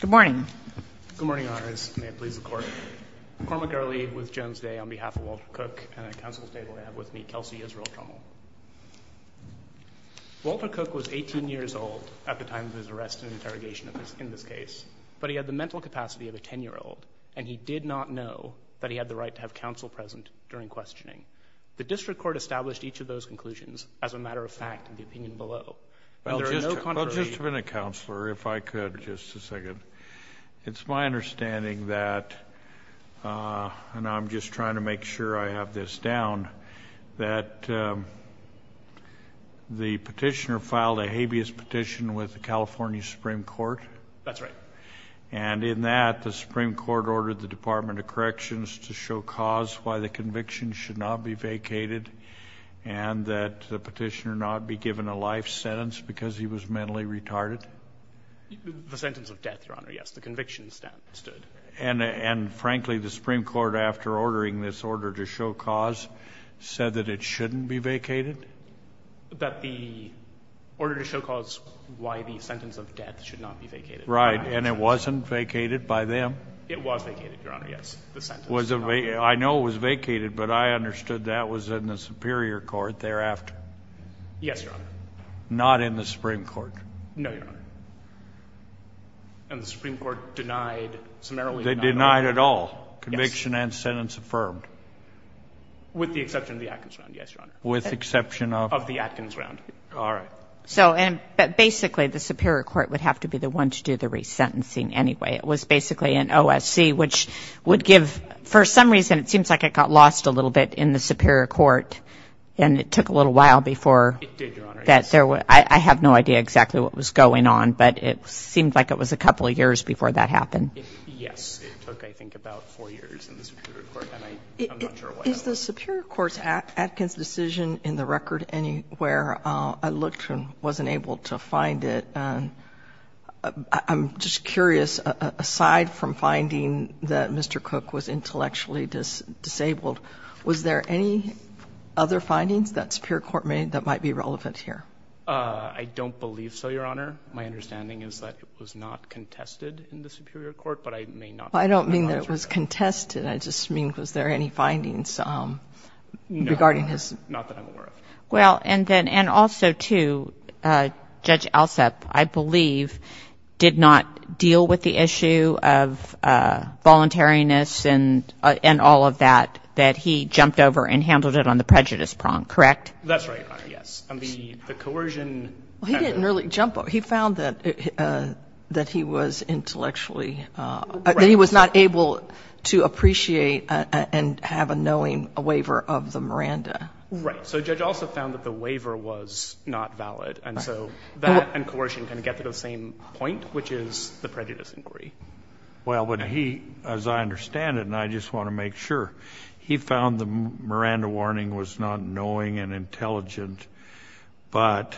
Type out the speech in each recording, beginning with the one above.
Good morning. Good morning, Honors. May it please the Court. Cormac Early with Jones Day on behalf of Walter Cook, and at Council's table I have with me Kelsey Israel Trommel. Walter Cook was 18 years old at the time of his arrest and interrogation in this case, but he had the mental capacity of a 10-year-old, and he did not know that he had the right to have counsel present during questioning. The District Court established each of those conclusions as a matter of fact in the opinion below. Well, just a minute, Counselor, if I could just a second. It's my understanding that, and I'm just trying to make sure I have this down, that the petitioner filed a habeas petition with the California Supreme Court. That's right. And in that, the Supreme Court ordered the Department of Corrections to show cause why the conviction should not be vacated and that the petitioner not be given a life sentence because he was mentally retarded? The sentence of death, Your Honor, yes, the conviction stood. And frankly, the Supreme Court, after ordering this order to show cause, said that it shouldn't be vacated? That the order to show cause why the sentence of death should not be vacated. Right, and it wasn't vacated by them? It was vacated, Your Honor, yes, the sentence. I know it was vacated, but I understood that was in the Superior Court thereafter? Yes, Your Honor. Not in the Supreme Court? No, Your Honor. And the Supreme Court denied, summarily denied? They denied at all? Yes. Conviction and sentence affirmed? With the exception of the Atkins round, yes, Your Honor. With the exception of? Of the Atkins round. All right. So basically, the Superior Court would have to be the one to do the resentencing anyway. It was basically an OSC, which would give, for some reason, it seems like it got lost a little bit in the Superior Court, and it took a little while before. It did, Your Honor, yes. I have no idea exactly what was going on, but it seemed like it was a couple of years before that happened. Yes, it took, I think, about four years in the Superior Court, and I'm not sure why. Is the Superior Court's Atkins decision in the record anywhere? I looked and wasn't able to find it. I'm just curious, aside from finding that Mr. Cook was intellectually disabled, was there any other findings that Superior Court made that might be relevant here? I don't believe so, Your Honor. My understanding is that it was not contested in the Superior Court, but I may not be able to answer that. I don't mean that it was contested. I just mean, was there any findings regarding his? No. Not that I'm aware of. Well, and then also, too, Judge Alsup, I believe, did not deal with the issue of voluntariness and all of that, that he jumped over and handled it on the prejudice prong, correct? That's right, Your Honor, yes. The coercion. He didn't really jump over. He found that he was intellectually, that he was not able to appreciate and have a knowing waiver of the Miranda. Right. So Judge Alsup found that the waiver was not valid, and so that and coercion kind of get to the same point, which is the prejudice inquiry. Well, but he, as I understand it, and I just want to make sure, he found the Miranda warning was not knowing and intelligent, but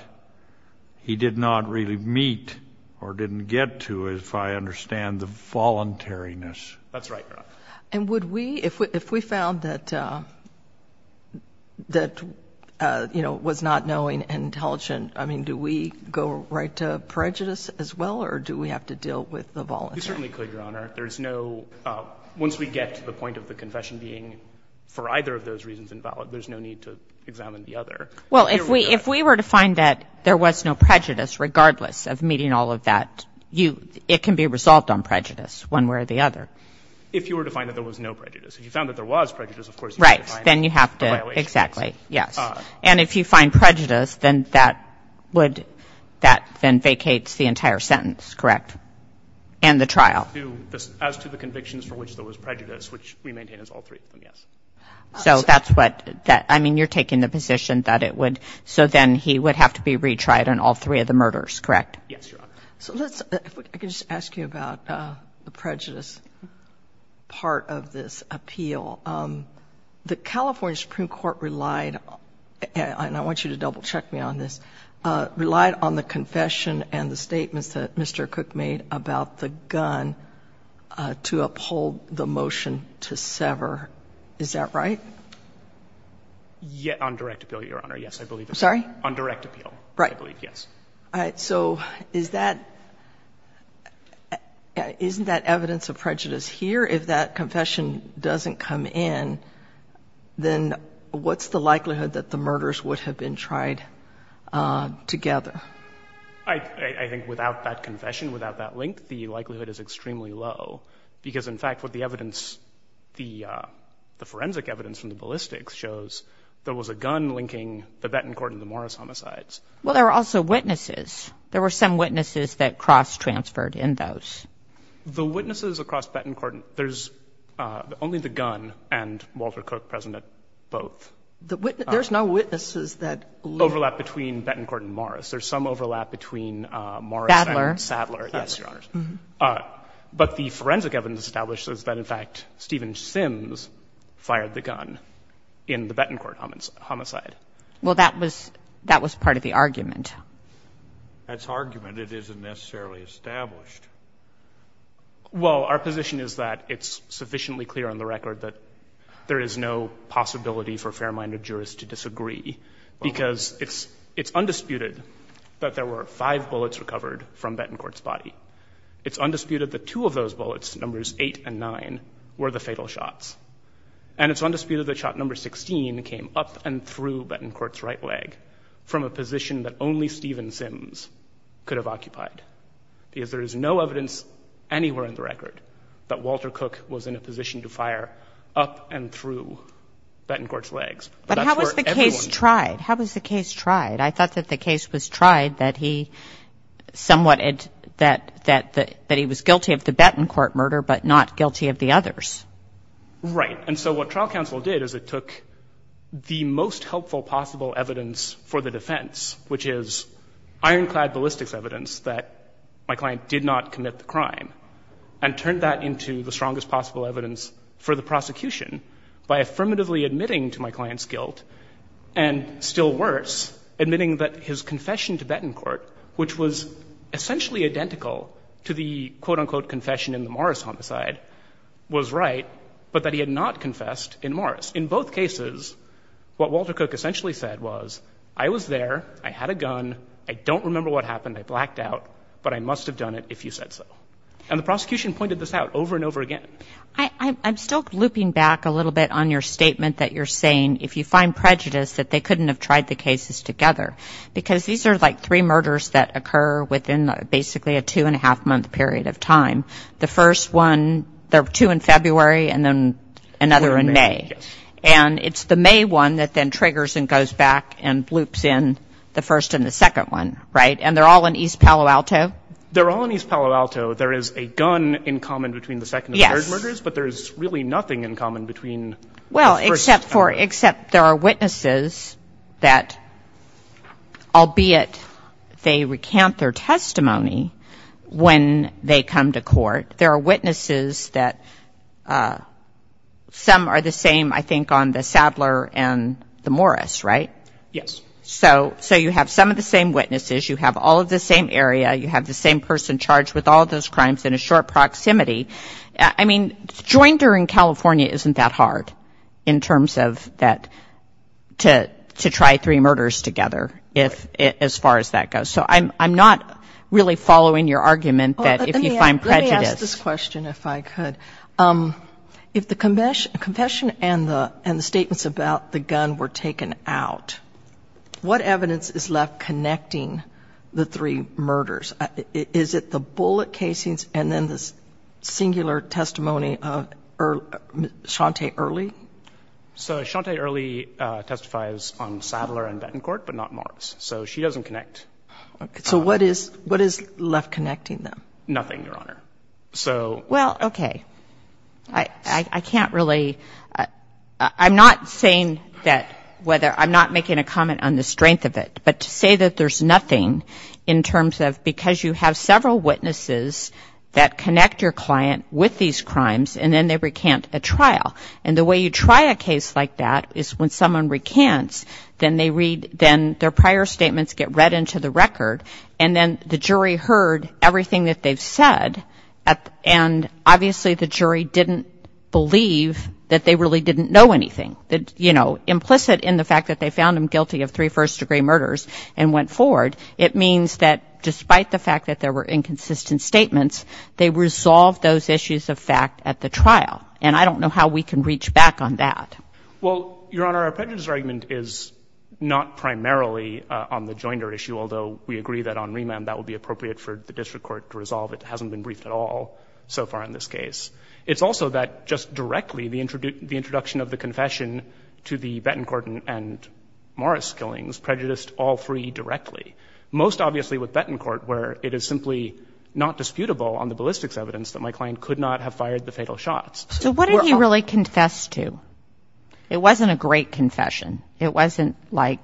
he did not really meet or didn't get to, if I understand, the voluntariness. That's right, Your Honor. And would we, if we found that, you know, it was not knowing and intelligent, I mean, do we go right to prejudice as well, or do we have to deal with the voluntariness? You certainly could, Your Honor. There's no, once we get to the point of the confession being, for either of those reasons, invalid, there's no need to examine the other. Well, if we were to find that there was no prejudice, regardless of meeting all of that, it can be resolved on prejudice, one way or the other. If you were to find that there was no prejudice. If you found that there was prejudice, of course, you have to find the violation. Right. Then you have to, exactly, yes. And if you find prejudice, then that would, that then vacates the entire sentence, correct, and the trial. As to the convictions for which there was prejudice, which we maintain as all three of them, yes. So that's what, I mean, you're taking the position that it would, so then he would have to be retried on all three of the murders, correct? Yes, Your Honor. So let's, if I could just ask you about the prejudice part of this appeal. The California Supreme Court relied, and I want you to double check me on this, relied on the confession and the statements that Mr. Cook made about the gun to uphold the motion to sever. Is that right? On direct appeal, Your Honor, yes, I believe. Sorry? On direct appeal, I believe, yes. All right. So is that, isn't that evidence of prejudice here? If that confession doesn't come in, then what's the likelihood that the murders would have been tried together? I think without that confession, without that link, the likelihood is extremely low, because, in fact, what the evidence, the forensic evidence from the ballistics shows, there was a gun linking the Bettencourt and the Morris homicides. Well, there were also witnesses. There were some witnesses that cross-transferred in those. The witnesses across Bettencourt, there's only the gun and Walter Cook present at both. There's no witnesses that link? Overlap between Bettencourt and Morris. There's some overlap between Morris and Sadler. Sadler. Yes, Your Honors. But the forensic evidence establishes that, in fact, Stephen Sims fired the gun in the Bettencourt homicide. Well, that was part of the argument. That's argument. It isn't necessarily established. Well, our position is that it's sufficiently clear on the record that there is no possibility for fair-minded jurists to disagree, because it's undisputed that there were five bullets recovered from Bettencourt's body. It's undisputed that two of those bullets, numbers 8 and 9, were the fatal shots. And it's undisputed that shot number 16 came up and through Bettencourt's right leg from a position that only Stephen Sims could have occupied, because there is no evidence anywhere in the record that Walter Cook was in a position to fire up and through Bettencourt's legs. But that's where everyone was. But how was the case tried? How was the case tried? I thought that the case was tried that he somewhat — that he was guilty of the Right. And so what trial counsel did is it took the most helpful possible evidence for the defense, which is ironclad ballistics evidence that my client did not commit the crime, and turned that into the strongest possible evidence for the prosecution by affirmatively admitting to my client's guilt and, still worse, admitting that his confession to Bettencourt, which was essentially identical to the quote-unquote confession in the Morris homicide, was right, but that he had not confessed in Morris. In both cases, what Walter Cook essentially said was, I was there. I had a gun. I don't remember what happened. I blacked out. But I must have done it if you said so. And the prosecution pointed this out over and over again. I'm still looping back a little bit on your statement that you're saying if you find prejudice that they couldn't have tried the cases together, because these are like three murders that occur within basically a two-and-a-half-month period of time. The first one, there are two in February and then another in May. Yes. And it's the May one that then triggers and goes back and loops in the first and the second one, right? And they're all in East Palo Alto? They're all in East Palo Alto. There is a gun in common between the second and third murders. Yes. But there is really nothing in common between the first and third. Well, except for – except there are witnesses that, albeit they recant their testimony, when they come to court, there are witnesses that some are the same, I think, on the Sadler and the Morris, right? Yes. So you have some of the same witnesses. You have all of the same area. You have the same person charged with all of those crimes in a short proximity. I mean, join during California isn't that hard in terms of that to try three murders together, as far as that goes. So I'm not really following your argument that if you find prejudice. Let me ask this question, if I could. If the confession and the statements about the gun were taken out, what evidence is left connecting the three murders? Is it the bullet casings and then the singular testimony of Chante Early? So Chante Early testifies on Sadler and Betancourt, but not Morris. So she doesn't connect. So what is left connecting them? Nothing, Your Honor. Well, okay. I can't really – I'm not saying that whether – I'm not making a comment on the strength of it, but to say that there's nothing in terms of because you have several witnesses that connect your client with these crimes and then they recant a trial. And the way you try a case like that is when someone recants, then they read – then their prior statements get read into the record and then the jury heard everything that they've said. And obviously the jury didn't believe that they really didn't know anything. You know, implicit in the fact that they found him guilty of three first-degree murders and went forward, it means that despite the fact that there were inconsistent statements, they resolved those issues of fact at the trial. And I don't know how we can reach back on that. Well, Your Honor, our prejudice argument is not primarily on the Joyner issue, although we agree that on Rima that would be appropriate for the district court to resolve. It hasn't been briefed at all so far in this case. It's also that just directly the introduction of the confession to the Bettencourt and Morris killings prejudiced all three directly, most obviously with Bettencourt where it is simply not disputable on the ballistics evidence that my client could not have fired the fatal shots. So what did he really confess to? It wasn't a great confession. It wasn't like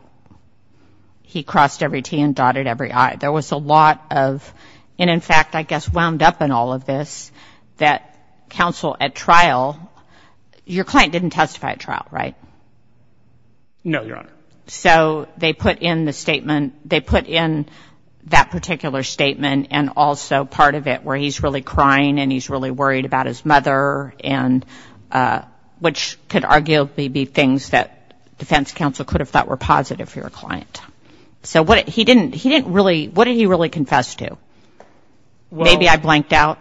he crossed every T and dotted every I. There was a lot of, and in fact I guess wound up in all of this, that counsel at trial, your client didn't testify at trial, right? No, Your Honor. So they put in the statement, they put in that particular statement and also part of it where he's really crying and he's really worried about his mother and which could arguably be things that defense counsel could have thought were positive for your client. So he didn't really, what did he really confess to? Maybe I blanked out.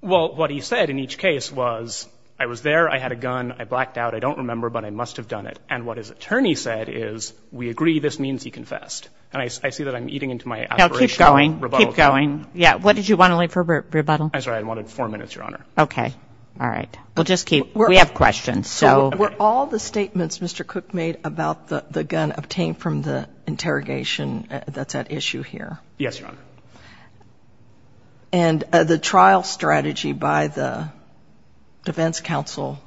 Well, what he said in each case was I was there, I had a gun, I blacked out, I don't remember, but I must have done it. And what his attorney said is we agree this means he confessed. And I see that I'm eating into my aspirational rebuttal. Keep going. What did you want to leave for rebuttal? I'm sorry. I wanted four minutes, Your Honor. Okay. All right. We'll just keep, we have questions. So were all the statements Mr. Cook made about the gun obtained from the interrogation that's at issue here? Yes, Your Honor. And the trial strategy by the defense counsel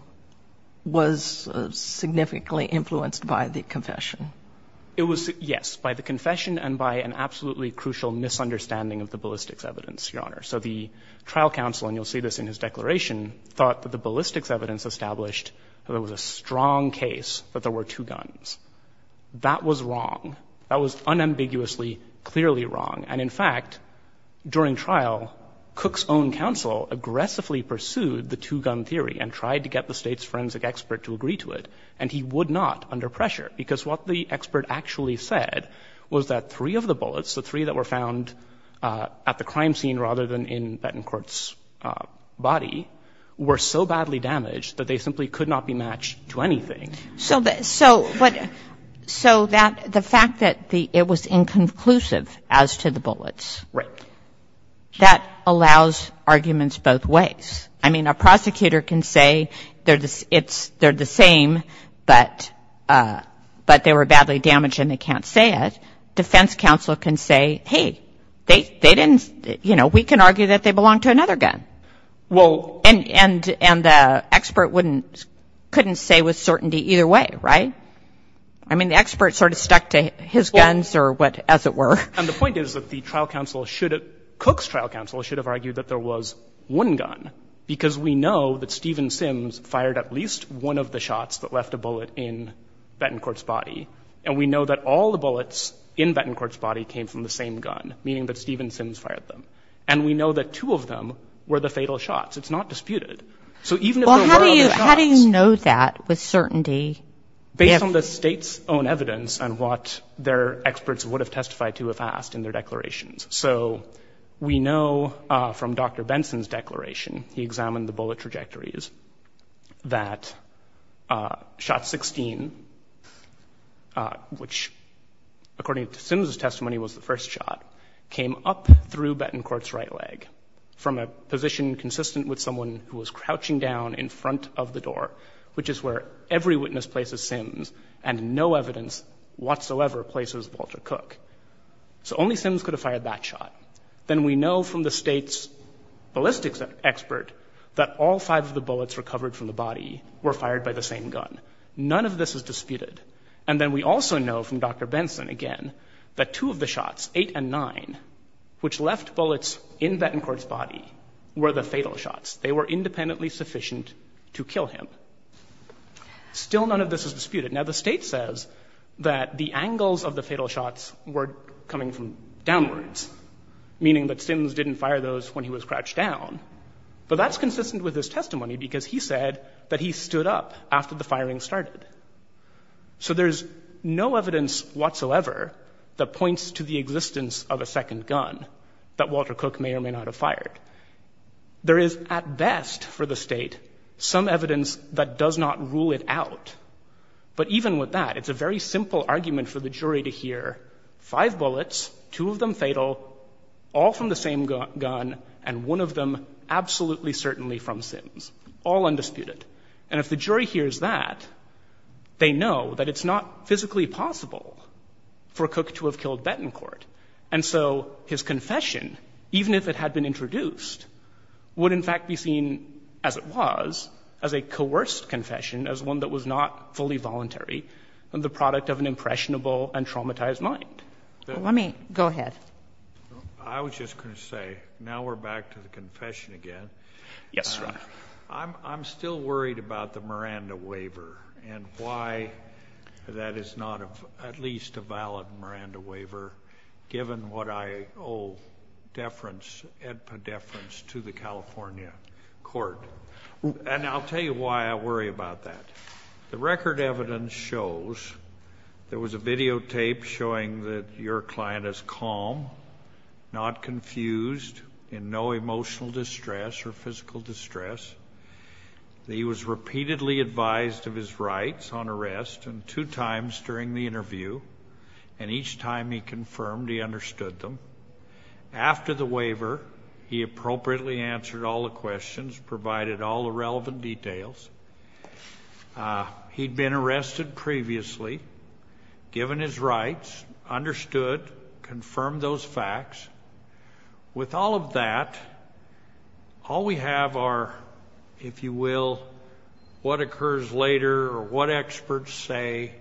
was significantly influenced by the confession? It was, yes, by the confession and by an absolutely crucial misunderstanding of the ballistics evidence, Your Honor. So the trial counsel, and you'll see this in his declaration, thought that the ballistics evidence established that there was a strong case that there were two guns. That was wrong. That was unambiguously, clearly wrong. And in fact, during trial, Cook's own counsel aggressively pursued the two-gun theory and tried to get the State's forensic expert to agree to it, and he would not, under pressure. Because what the expert actually said was that three of the bullets, the three that were found at the crime scene rather than in Bettencourt's body, were so badly damaged that they simply could not be matched to anything. So the fact that it was inconclusive as to the bullets, that allows arguments both ways. I mean, a prosecutor can say they're the same, but they were badly damaged and they can't say it. Defense counsel can say, hey, they didn't, you know, we can argue that they belong to another gun. And the expert wouldn't, couldn't say with certainty either way, right? I mean, the expert sort of stuck to his guns or what, as it were. And the point is that the trial counsel should have, Cook's trial counsel should have argued that there was one gun. Because we know that Stephen Sims fired at least one of the shots that left a bullet in Bettencourt's body, and we know that all the bullets in Bettencourt's body came from the same gun, meaning that Stephen Sims fired them. And we know that two of them were the fatal shots. It's not disputed. So even if there were other shots. Well, how do you know that with certainty? Based on the State's own evidence and what their experts would have testified to if asked in their declarations. So we know from Dr. Benson's declaration, he examined the bullet trajectories, that shot 16, which according to Sims' testimony was the first shot, came up through Bettencourt's right leg from a position consistent with someone who was crouching down in front of the door, which is where every witness places Sims and no evidence whatsoever places Walter Cook. So only Sims could have fired that shot. Then we know from the State's ballistics expert that all five of the bullets recovered from the body were fired by the same gun. None of this is disputed. And then we also know from Dr. Benson, again, that two of the shots, eight and nine, which left bullets in Bettencourt's body were the fatal shots. They were independently sufficient to kill him. Still none of this is disputed. Now the State says that the angles of the fatal shots were coming from downwards, meaning that Sims didn't fire those when he was crouched down. But that's consistent with his testimony because he said that he stood up after the firing started. So there's no evidence whatsoever that points to the existence of a second gun that Walter Cook may or may not have fired. There is, at best for the State, some evidence that does not rule it out. But even with that, it's a very simple argument for the jury to hear five bullets, two of them fatal, all from the same gun, and one of them absolutely certainly from Sims, all undisputed. And if the jury hears that, they know that it's not physically possible for Cook to have killed Bettencourt. And so his confession, even if it had been introduced, would in fact be seen as it was, as a coerced confession, as one that was not fully voluntary, the product of an impressionable and traumatized mind. Let me go ahead. I was just going to say, now we're back to the confession again. Yes, Your Honor. I'm still worried about the Miranda waiver and why that is not at least a valid Miranda waiver, given what I owe deference, epideference, to the California court. And I'll tell you why I worry about that. The record evidence shows there was a videotape showing that your client is calm, not confused, in no emotional distress or physical distress. He was repeatedly advised of his rights on arrest two times during the interview, and each time he confirmed he understood them. After the waiver, he appropriately answered all the questions, provided all the relevant details. He'd been arrested previously, given his rights, understood, confirmed those facts. With all of that, all we have are, if you will, what occurs later or what experts say.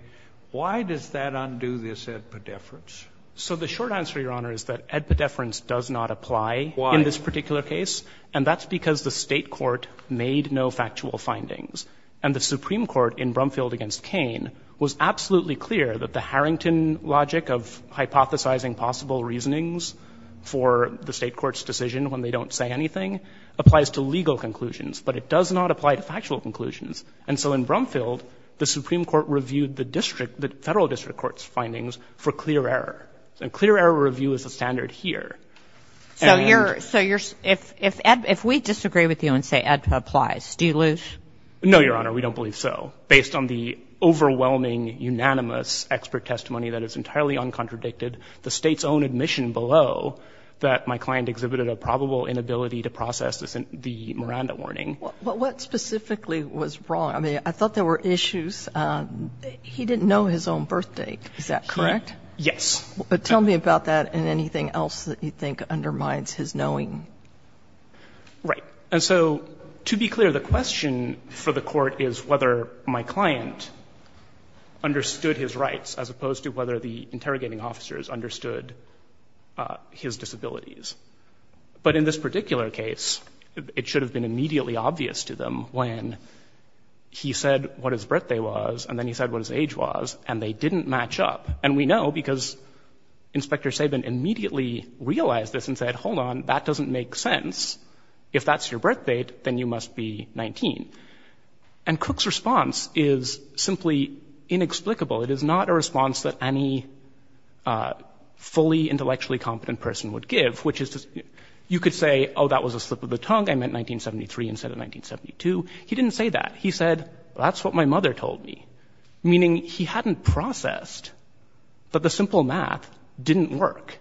Why does that undo this epideference? So the short answer, Your Honor, is that epideference does not apply in this particular case. Why? And that's because the State court made no factual findings. And the Supreme Court in Brumfield v. Cain was absolutely clear that the Harrington logic of hypothesizing possible reasonings for the State court's decision when they don't say anything applies to legal conclusions, but it does not apply to factual conclusions. And so in Brumfield, the Supreme Court reviewed the district, the Federal District Court's findings for clear error. And clear error review is the standard here. And so you're, so you're, if Ed, if we disagree with you and say Ed applies, do you lose? No, Your Honor. We don't believe so. Based on the overwhelming, unanimous expert testimony that is entirely uncontradicted, the State's own admission below that my client exhibited a probable inability to process the Miranda warning. But what specifically was wrong? I mean, I thought there were issues. He didn't know his own birth date. Is that correct? Yes. But tell me about that and anything else that you think undermines his knowing. Right. And so to be clear, the question for the Court is whether my client understood his rights as opposed to whether the interrogating officers understood his disabilities. But in this particular case, it should have been immediately obvious to them when he said what his birthday was and then he said what his age was, and they didn't match up. And we know because Inspector Saban immediately realized this and said, hold on, that doesn't make sense. If that's your birth date, then you must be 19. And Cook's response is simply inexplicable. It is not a response that any fully intellectually competent person would give, which is you could say, oh, that was a slip of the tongue. I meant 1973 instead of 1972. He didn't say that. He said, that's what my mother told me, meaning he hadn't processed that the simple math didn't work,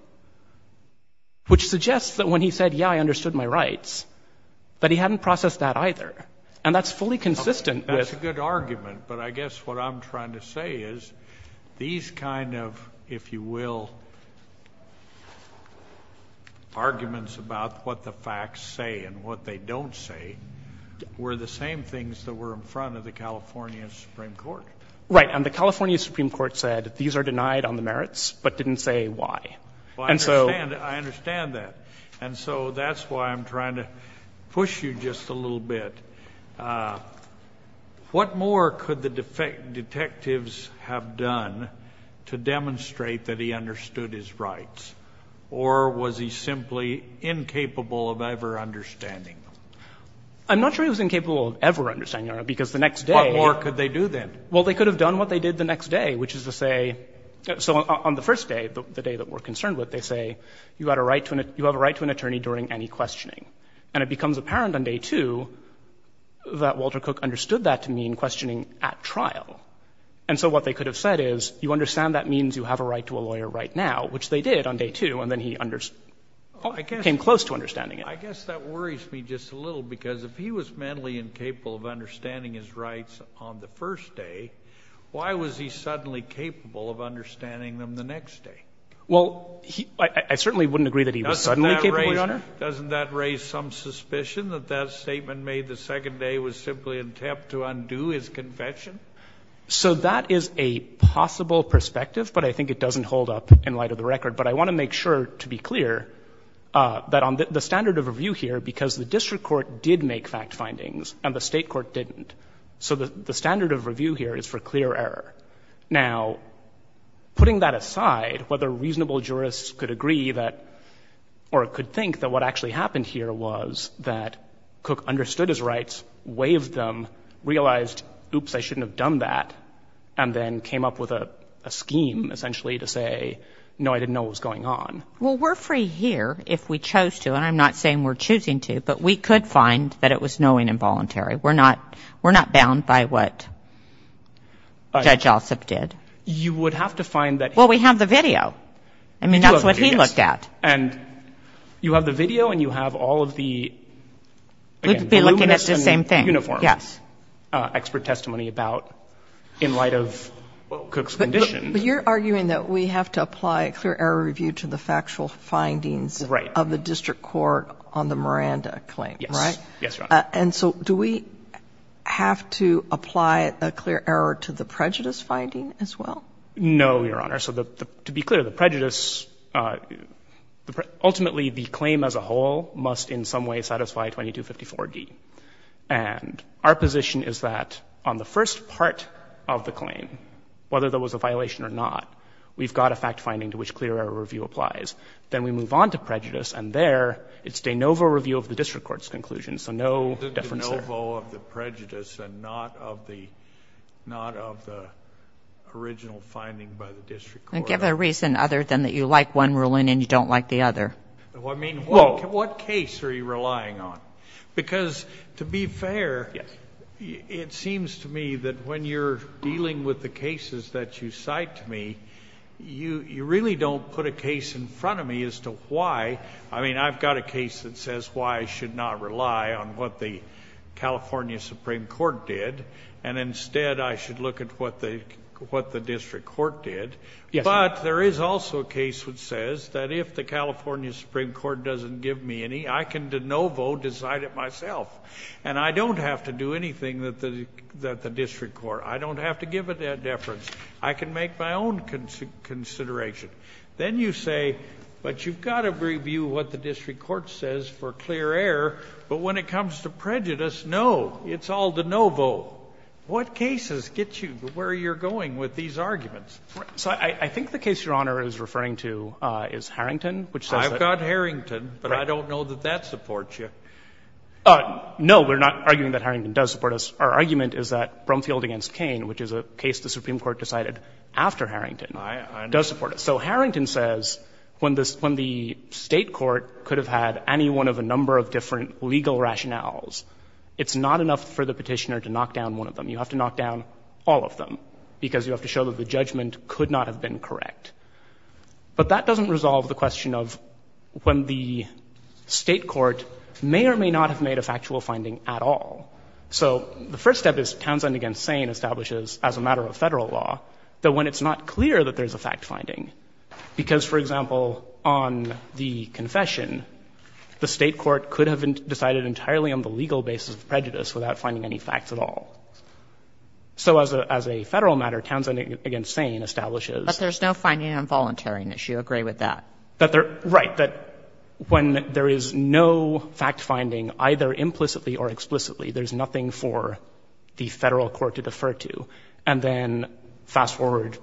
which suggests that when he said, yeah, I understood my rights, that he hadn't processed that either. And that's fully consistent. That's a good argument. But I guess what I'm trying to say is these kind of, if you will, arguments about what the facts say and what they don't say were the same things that were in front of the California Supreme Court. Right. And the California Supreme Court said these are denied on the merits but didn't say why. I understand that. And so that's why I'm trying to push you just a little bit. What more could the detectives have done to demonstrate that he understood his rights? Or was he simply incapable of ever understanding them? I'm not sure he was incapable of ever understanding them, because the next day – What more could they do then? Well, they could have done what they did the next day, which is to say – so on the first day, the day that we're concerned with, they say, you have a right to an attorney during any questioning. And it becomes apparent on day two that Walter Cook understood that to mean questioning at trial. And so what they could have said is, you understand that means you have a right to a lawyer right now, which they did on day two, and then he came close to understanding it. I guess that worries me just a little, because if he was mentally incapable of understanding his rights on the first day, why was he suddenly capable of understanding them the next day? Well, I certainly wouldn't agree that he was suddenly capable, Your Honor. Doesn't that raise some suspicion that that statement made the second day was simply an attempt to undo his confession? So that is a possible perspective, but I think it doesn't hold up in light of the record. But I want to make sure to be clear that on the standard of review here, because the district court did make fact findings, and the state court didn't. So the standard of review here is for clear error. Now, putting that aside, whether reasonable jurists could agree that – or could think that what actually happened here was that Cook understood his rights, waived them, realized, oops, I shouldn't have done that, and then came up with a scheme essentially to say, no, I didn't know what was going on. Well, we're free here if we chose to. And I'm not saying we're choosing to, but we could find that it was knowing involuntary. We're not bound by what Judge Ossoff did. You would have to find that he – Well, we have the video. I mean, that's what he looked at. And you have the video and you have all of the, again, voluminous and uniform expert testimony about in light of Cook's condition. But you're arguing that we have to apply a clear error review to the factual findings of the district court on the Miranda claim, right? Yes. Yes, Your Honor. And so do we have to apply a clear error to the prejudice finding as well? No, Your Honor. So to be clear, the prejudice, ultimately the claim as a whole must in some way satisfy 2254D. And our position is that on the first part of the claim, whether there was a violation or not, we've got a fact finding to which clear error review applies. Then we move on to prejudice, and there it's de novo review of the district court's conclusion. So no difference there. De novo of the prejudice and not of the original finding by the district court. And give a reason other than that you like one ruling and you don't like the other. I mean, what case are you relying on? Because to be fair, it seems to me that when you're dealing with the cases that you cite to me, you really don't put a case in front of me as to why. I mean, I've got a case that says why I should not rely on what the California Supreme Court did, and instead I should look at what the district court did. But there is also a case which says that if the California Supreme Court doesn't give me any, I can de novo decide it myself. And I don't have to do anything that the district court. I don't have to give a deference. I can make my own consideration. Then you say, but you've got to review what the district court says for clear air. But when it comes to prejudice, no, it's all de novo. What cases get you where you're going with these arguments? So I think the case Your Honor is referring to is Harrington, which says that I've got Harrington, but I don't know that that supports you. No, we're not arguing that Harrington does support us. Our argument is that Brumfield v. Cain, which is a case the Supreme Court decided after Harrington, does support us. So Harrington says when the state court could have had any one of a number of different legal rationales, it's not enough for the petitioner to knock down one of them. You have to knock down all of them because you have to show that the judgment could not have been correct. But that doesn't resolve the question of when the state court may or may not have made a factual finding at all. So the first step is Townsend v. Cain establishes as a matter of federal law that when it's not clear that there's a fact-finding, because, for example, on the confession, the state court could have decided entirely on the legal basis of prejudice without finding any facts at all. So as a federal matter, Townsend v. Cain establishes. But there's no finding on voluntariness. You agree with that? Right. That when there is no fact-finding, either implicitly or explicitly, there's nothing for the Federal court to defer to. And then fast-forward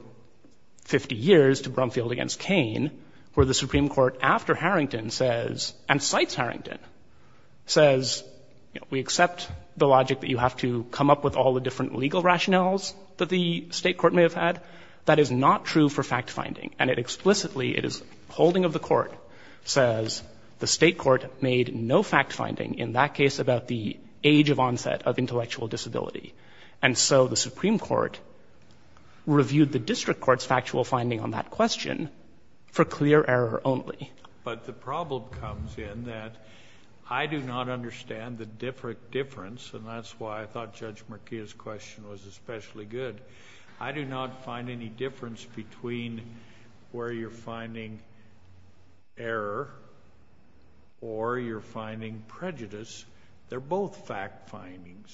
50 years to Brumfield v. Cain, where the Supreme Court, after Harrington, says, and cites Harrington, says, we accept the logic that you have to come up with all the different legal rationales that the state court may have had. That is not true for fact-finding. And it explicitly, it is holding of the court, says the state court made no fact-finding in that case about the age of onset of intellectual disability. And so the Supreme Court reviewed the district court's factual finding on that question for clear error only. But the problem comes in that I do not understand the difference, and that's why I thought Judge Murkia's question was especially good. I do not find any difference between where you're finding error or you're finding prejudice. They're both fact-findings.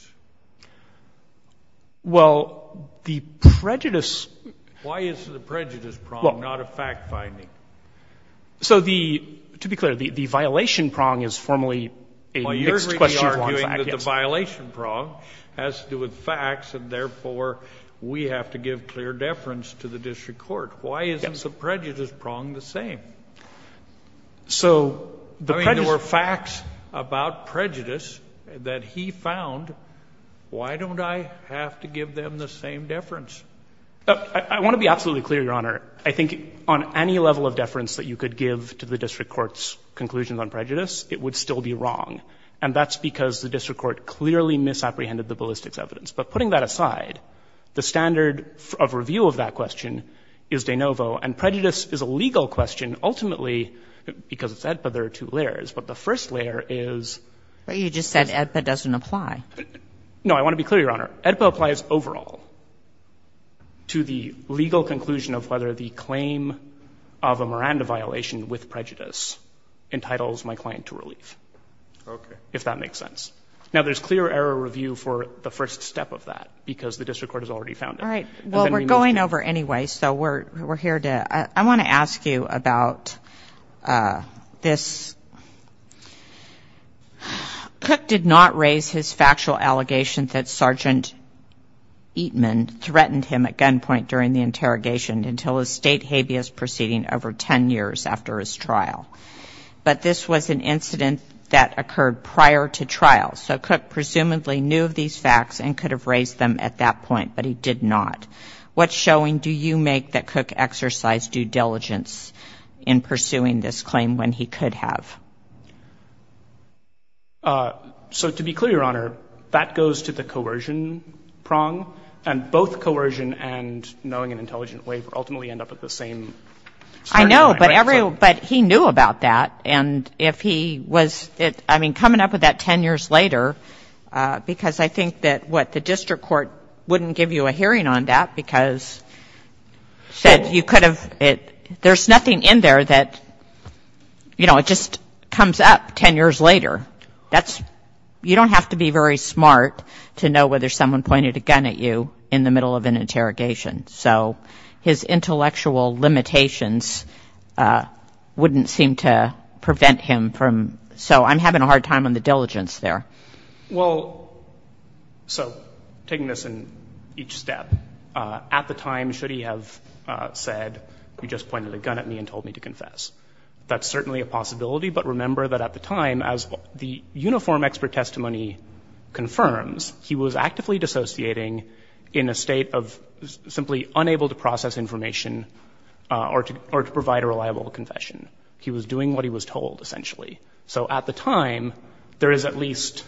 Well, the prejudice. Why is the prejudice prong not a fact-finding? So the, to be clear, the violation prong is formally a mixed question of one fact. Well, you're really arguing that the violation prong has to do with facts, and therefore we have to give clear deference to the district court. So the prejudice. I mean, there were facts about prejudice that he found. Why don't I have to give them the same deference? I want to be absolutely clear, Your Honor. I think on any level of deference that you could give to the district court's conclusions on prejudice, it would still be wrong. And that's because the district court clearly misapprehended the ballistics evidence. But putting that aside, the standard of review of that question is de novo. And prejudice is a legal question. Ultimately, because it's AEDPA, there are two layers. But the first layer is. But you just said AEDPA doesn't apply. No. I want to be clear, Your Honor. AEDPA applies overall to the legal conclusion of whether the claim of a Miranda violation with prejudice entitles my client to relief. Okay. If that makes sense. Now, there's clear error review for the first step of that, because the district court has already found it. All right. Well, we're going over anyway, so we're here to ‑‑ I want to ask you about this. Cook did not raise his factual allegation that Sergeant Eatman threatened him at gunpoint during the interrogation until a state habeas proceeding over ten years after his trial. But this was an incident that occurred prior to trial. So Cook presumably knew of these facts and could have raised them at that point. What's showing? Do you make that Cook exercised due diligence in pursuing this claim when he could have? So to be clear, Your Honor, that goes to the coercion prong. And both coercion and knowing an intelligent way ultimately end up at the same starting point. I know. But he knew about that. And if he was ‑‑ I mean, coming up with that ten years later, because I think that, what, the district court wouldn't give you a hearing on that, because said you could have ‑‑ there's nothing in there that, you know, it just comes up ten years later. That's ‑‑ you don't have to be very smart to know whether someone pointed a gun at you in the middle of an interrogation. So his intellectual limitations wouldn't seem to prevent him from ‑‑ so I'm having a hard time on the diligence there. Well, so taking this in each step, at the time, should he have said, you just pointed a gun at me and told me to confess? That's certainly a possibility, but remember that at the time, as the uniform expert testimony confirms, he was actively dissociating in a state of simply unable to process information or to provide a reliable confession. He was doing what he was told, essentially. So at the time, there is at least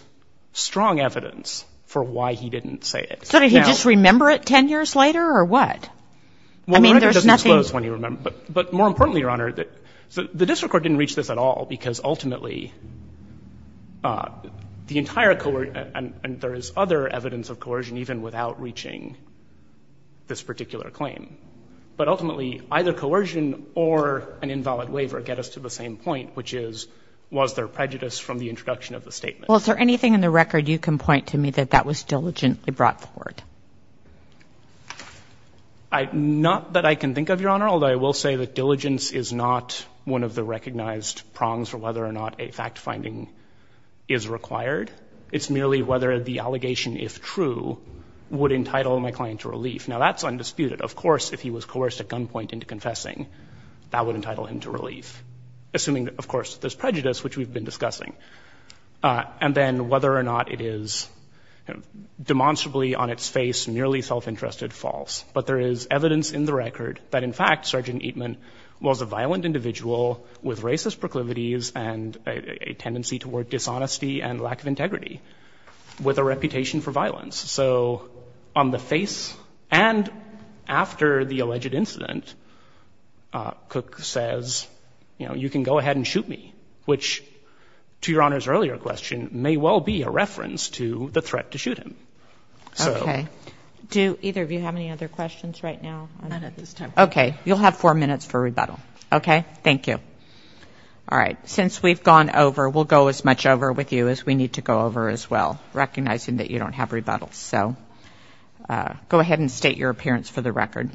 strong evidence for why he didn't say it. So did he just remember it ten years later, or what? I mean, there's nothing ‑‑ Well, the record doesn't disclose when he remembered, but more importantly, Your Honor, the district court didn't reach this at all, because ultimately, the entire ‑‑ and there is other evidence of coercion even without reaching this particular claim. But ultimately, either coercion or an invalid waiver get us to the same point, which is, was there prejudice from the introduction of the statement? Well, is there anything in the record you can point to me that that was diligently brought forward? Not that I can think of, Your Honor, although I will say that diligence is not one of the recognized prongs for whether or not a fact-finding is required. It's merely whether the allegation, if true, would entitle my client to relief. Now, that's undisputed. Of course, if he was coerced at gunpoint into confessing, that would entitle him to relief, assuming, of course, there's prejudice, which we've been discussing, and then whether or not it is demonstrably on its face, merely self‑interested, false. But there is evidence in the record that, in fact, Sergeant Eatman was a violent individual with racist proclivities and a tendency toward dishonesty and lack of integrity, with a reputation for violence. So on the face and after the alleged incident, Cook says, you know, you can go ahead and shoot me, which, to Your Honor's earlier question, may well be a reference to the threat to shoot him. Okay. Do either of you have any other questions right now? None at this time. Okay. You'll have four minutes for rebuttal. Okay? Thank you. All right. Since we've gone over, we'll go as much over with you as we need to go over as well, recognizing that you don't have rebuttals. So go ahead and state your appearance for the record.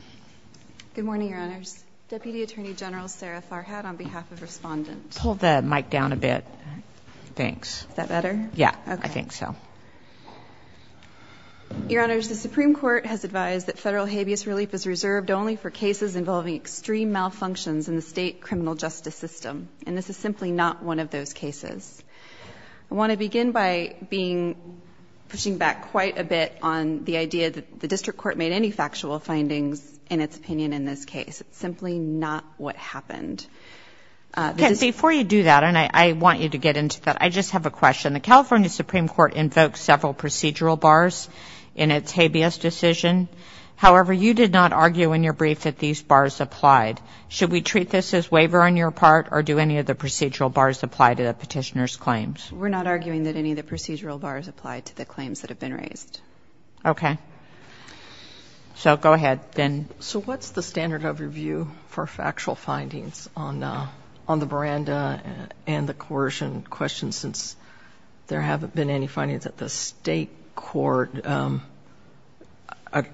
Good morning, Your Honors. Deputy Attorney General Sarah Farhad on behalf of Respondent. Pull the mic down a bit. Thanks. Is that better? Yeah, I think so. Okay. Your Honors, the Supreme Court has advised that federal habeas relief is reserved only for cases involving extreme malfunctions in the state criminal justice system, and this is simply not one of those cases. I want to begin by pushing back quite a bit on the idea that the District Court made any factual findings in its opinion in this case. It's simply not what happened. Okay. Before you do that, and I want you to get into that, I just have a question. The California Supreme Court invoked several procedural bars in its habeas decision. However, you did not argue in your brief that these bars applied. Should we treat this as waiver on your part, or do any of the procedural bars apply to the petitioner's claims? We're not arguing that any of the procedural bars apply to the claims that have been raised. Okay. So go ahead, then. So what's the standard of review for factual findings on the Miranda and the coercion question, since there haven't been any findings at the state court?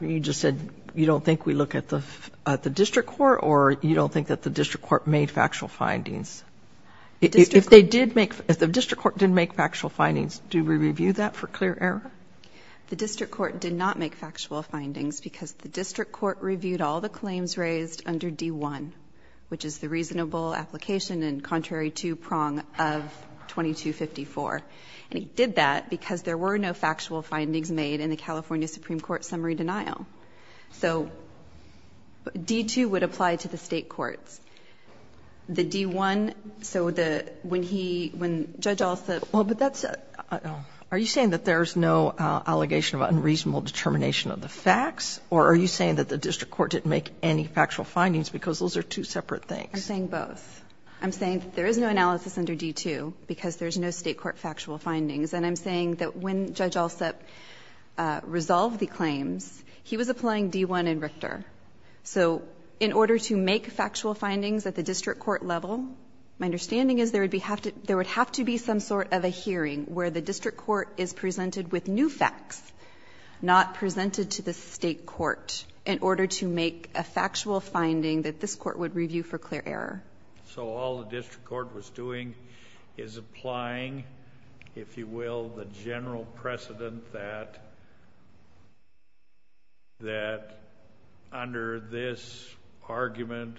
You just said you don't think we look at the District Court, or you don't think that the District Court made factual findings. If they did make — if the District Court did make factual findings, do we review that for clear error? The District Court did not make factual findings because the District Court reviewed all the claims raised under D-1, which is the reasonable application and contrary to prong of 2254. And it did that because there were no factual findings made in the California Supreme Court summary denial. So D-2 would apply to the state courts. The D-1, so the — when he — when Judge Alsup — Well, but that's — are you saying that there's no allegation of unreasonable determination of the facts, or are you saying that the District Court didn't make any factual findings because those are two separate things? I'm saying both. I'm saying that there is no analysis under D-2 because there's no state court factual findings. And I'm saying that when Judge Alsup resolved the claims, he was applying D-1 and Richter. So in order to make factual findings at the District Court level, my understanding is there would be — there would have to be some sort of a hearing where the District Court is presented with new facts, not presented to the state court, in order to make a factual finding that this court would review for clear error. So all the District Court was doing is applying, if you will, the general precedent that under this argument,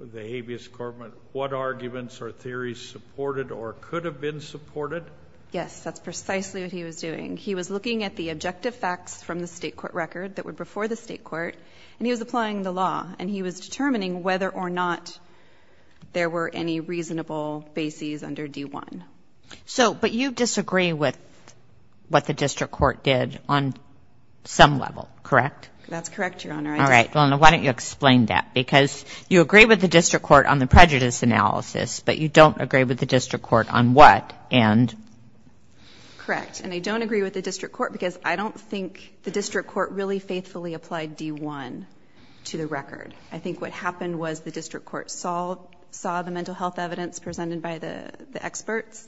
the habeas corpus, what arguments or theories supported or could have been supported? Yes, that's precisely what he was doing. He was looking at the objective facts from the state court record that were before the state court, and he was applying the law. And he was determining whether or not there were any reasonable bases under D-1. So — but you disagree with what the District Court did on some level, correct? That's correct, Your Honor. All right. Well, then why don't you explain that? Because you agree with the District Court on the prejudice analysis, but you don't agree with the District Court on what? And — Correct. And I don't agree with the District Court because I don't think the District Court faithfully applied D-1 to the record. I think what happened was the District Court saw the mental health evidence presented by the experts,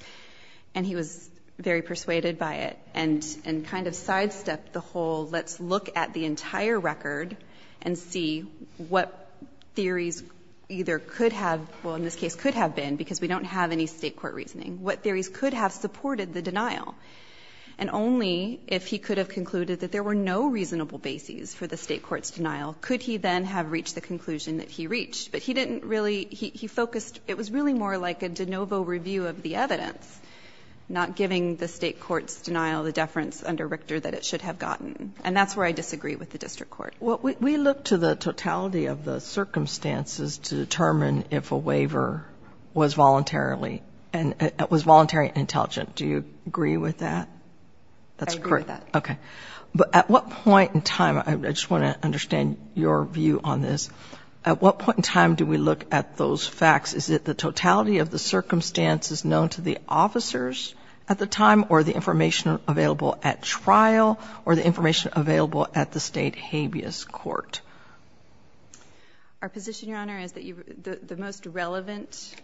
and he was very persuaded by it and kind of sidestepped the whole, let's look at the entire record and see what theories either could have — well, in this case, could have been, because we don't have any state court reasoning — what theories could have supported the denial. And only if he could have concluded that there were no reasonable bases for the state court's denial could he then have reached the conclusion that he reached. But he didn't really — he focused — it was really more like a de novo review of the evidence, not giving the state court's denial the deference under Richter that it should have gotten. And that's where I disagree with the District Court. Well, we looked to the totality of the circumstances to determine if a waiver was voluntarily — was voluntarily intelligent. Do you agree with that? I agree with that. Okay. But at what point in time — I just want to understand your view on this. At what point in time do we look at those facts? Is it the totality of the circumstances known to the officers at the time, or the information available at trial, or the information available at the state habeas court? Our position, Your Honor, is that the most relevant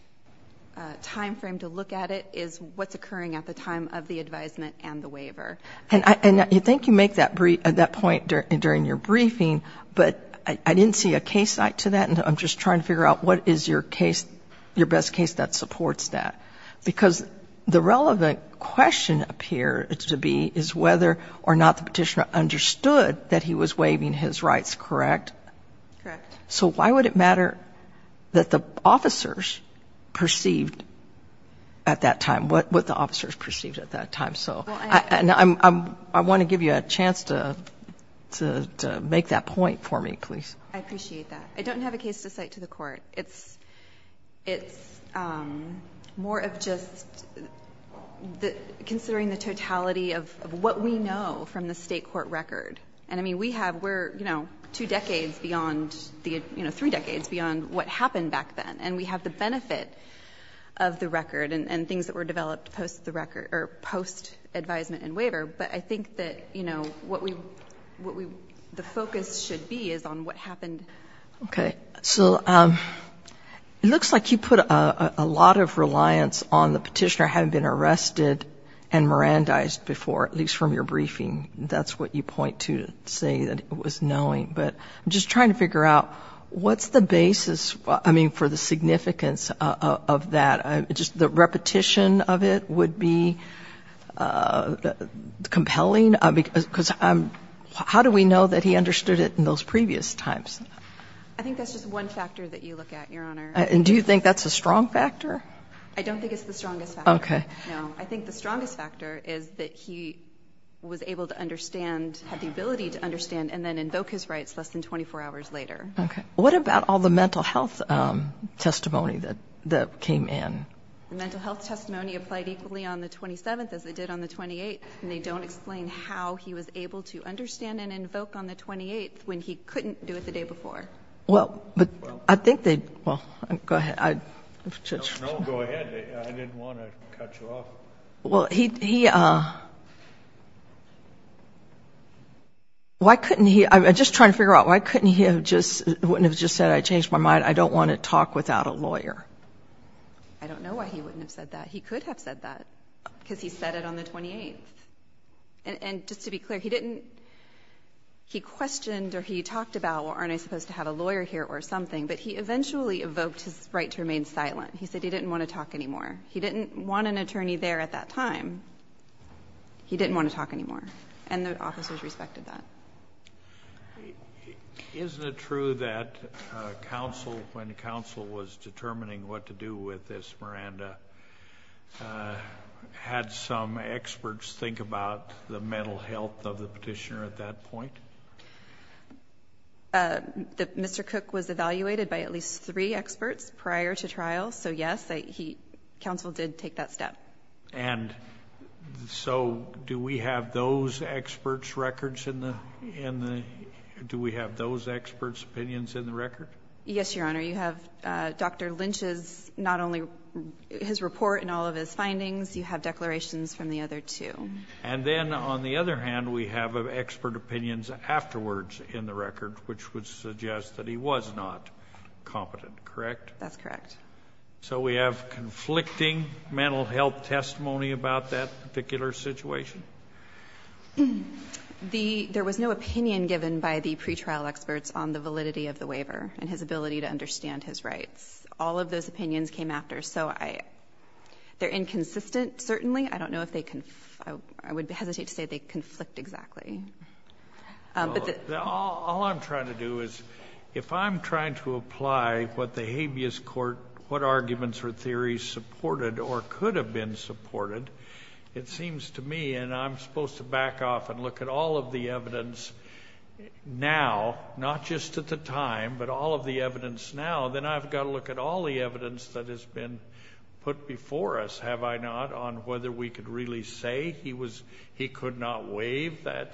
timeframe to look at it is what's occurring at the time of the advisement and the waiver. And I think you make that point during your briefing, but I didn't see a case site to that, and I'm just trying to figure out what is your case — your best case that supports that. Because the relevant question appears to be is whether or not the petitioner understood that he was waiving his rights, correct? Correct. So why would it matter that the officers perceived at that time? And I want to give you a chance to make that point for me, please. I appreciate that. I don't have a case to cite to the court. It's more of just considering the totality of what we know from the state court record. And, I mean, we have — we're, you know, two decades beyond — you know, three decades beyond what happened back then. And we have the benefit of the record and things that were developed post the record — or post advisement and waiver. But I think that, you know, what we — what we — the focus should be is on what happened. Okay. So it looks like you put a lot of reliance on the petitioner having been arrested and Mirandized before, at least from your briefing. That's what you point to to say that it was knowing. But I'm just trying to figure out what's the basis, I mean, for the significance of that. Just the repetition of it would be compelling? Because I'm — how do we know that he understood it in those previous times? I think that's just one factor that you look at, Your Honor. And do you think that's a strong factor? I don't think it's the strongest factor. Okay. No. I think the strongest factor is that he was able to understand — had the ability to understand and then invoke his rights less than 24 hours later. Okay. What about all the mental health testimony that came in? The mental health testimony applied equally on the 27th as it did on the 28th, and they don't explain how he was able to understand and invoke on the 28th when he couldn't do it the day before. Well, but I think they — well, go ahead. No, go ahead. I didn't want to cut you off. Well, he — why couldn't he — I'm just trying to figure out why couldn't he have just — wouldn't have just said, I changed my mind, I don't want to talk without a lawyer? I don't know why he wouldn't have said that. He could have said that because he said it on the 28th. And just to be clear, he didn't — he questioned or he talked about, well, aren't I supposed to have a lawyer here or something? But he eventually evoked his right to remain silent. He said he didn't want to talk anymore. He didn't want an attorney there at that time. He didn't want to talk anymore. And the officers respected that. Isn't it true that counsel, when counsel was determining what to do with this, Miranda, had some experts think about the mental health of the petitioner at that point? Mr. Cook was evaluated by at least three experts prior to trial. So, yes, he — counsel did take that step. And so do we have those experts' records in the — do we have those experts' opinions in the record? Yes, Your Honor. You have Dr. Lynch's — not only his report and all of his findings, you have declarations from the other two. And then, on the other hand, we have expert opinions afterwards in the record, which would suggest that he was not competent, correct? That's correct. So we have conflicting mental health testimony about that particular situation? There was no opinion given by the pretrial experts on the validity of the waiver and his ability to understand his rights. All of those opinions came after. So they're inconsistent, certainly. I don't know if they — I would hesitate to say they conflict exactly. All I'm trying to do is, if I'm trying to apply what the habeas court — what arguments or theories supported or could have been supported, it seems to me — and I'm supposed to back off and look at all of the evidence now, not just at the time, but all of the evidence now, then I've got to look at all the evidence that has been put before us, have I not, on whether we could really say he was — he could not waive that,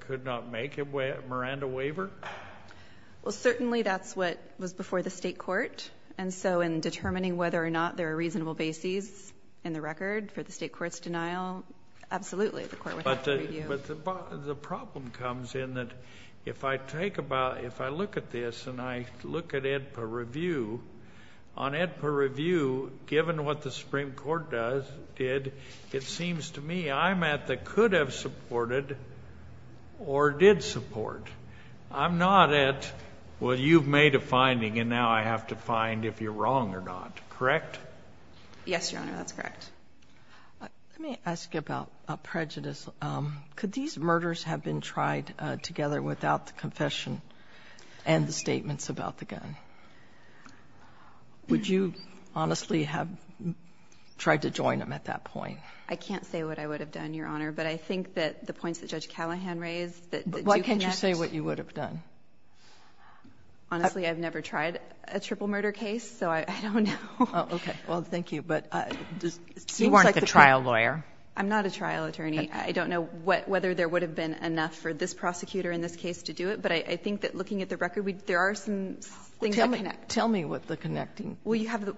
could not make a Miranda waiver? Well, certainly that's what was before the state court. And so in determining whether or not there are reasonable bases in the record for the state court's denial, absolutely the court would have to review. But the problem comes in that if I take about — if I look at this and I look at it per review, on it per review, given what the Supreme Court does, did, it seems to me I'm at the could have supported or did support. I'm not at, well, you've made a finding and now I have to find if you're wrong or not. Correct? Yes, Your Honor, that's correct. Let me ask you about prejudice. Could these murders have been tried together without the confession and the statements about the gun? Would you honestly have tried to join them at that point? I can't say what I would have done, Your Honor, but I think that the points that Judge Callahan raised that do connect. Why can't you say what you would have done? Honestly, I've never tried a triple murder case, so I don't know. Okay, well, thank you. You weren't the trial lawyer? I'm not a trial attorney. I don't know whether there would have been enough for this prosecutor in this case to do it, but I think that looking at the record, there are some things that connect. Tell me what's connecting. Well, you have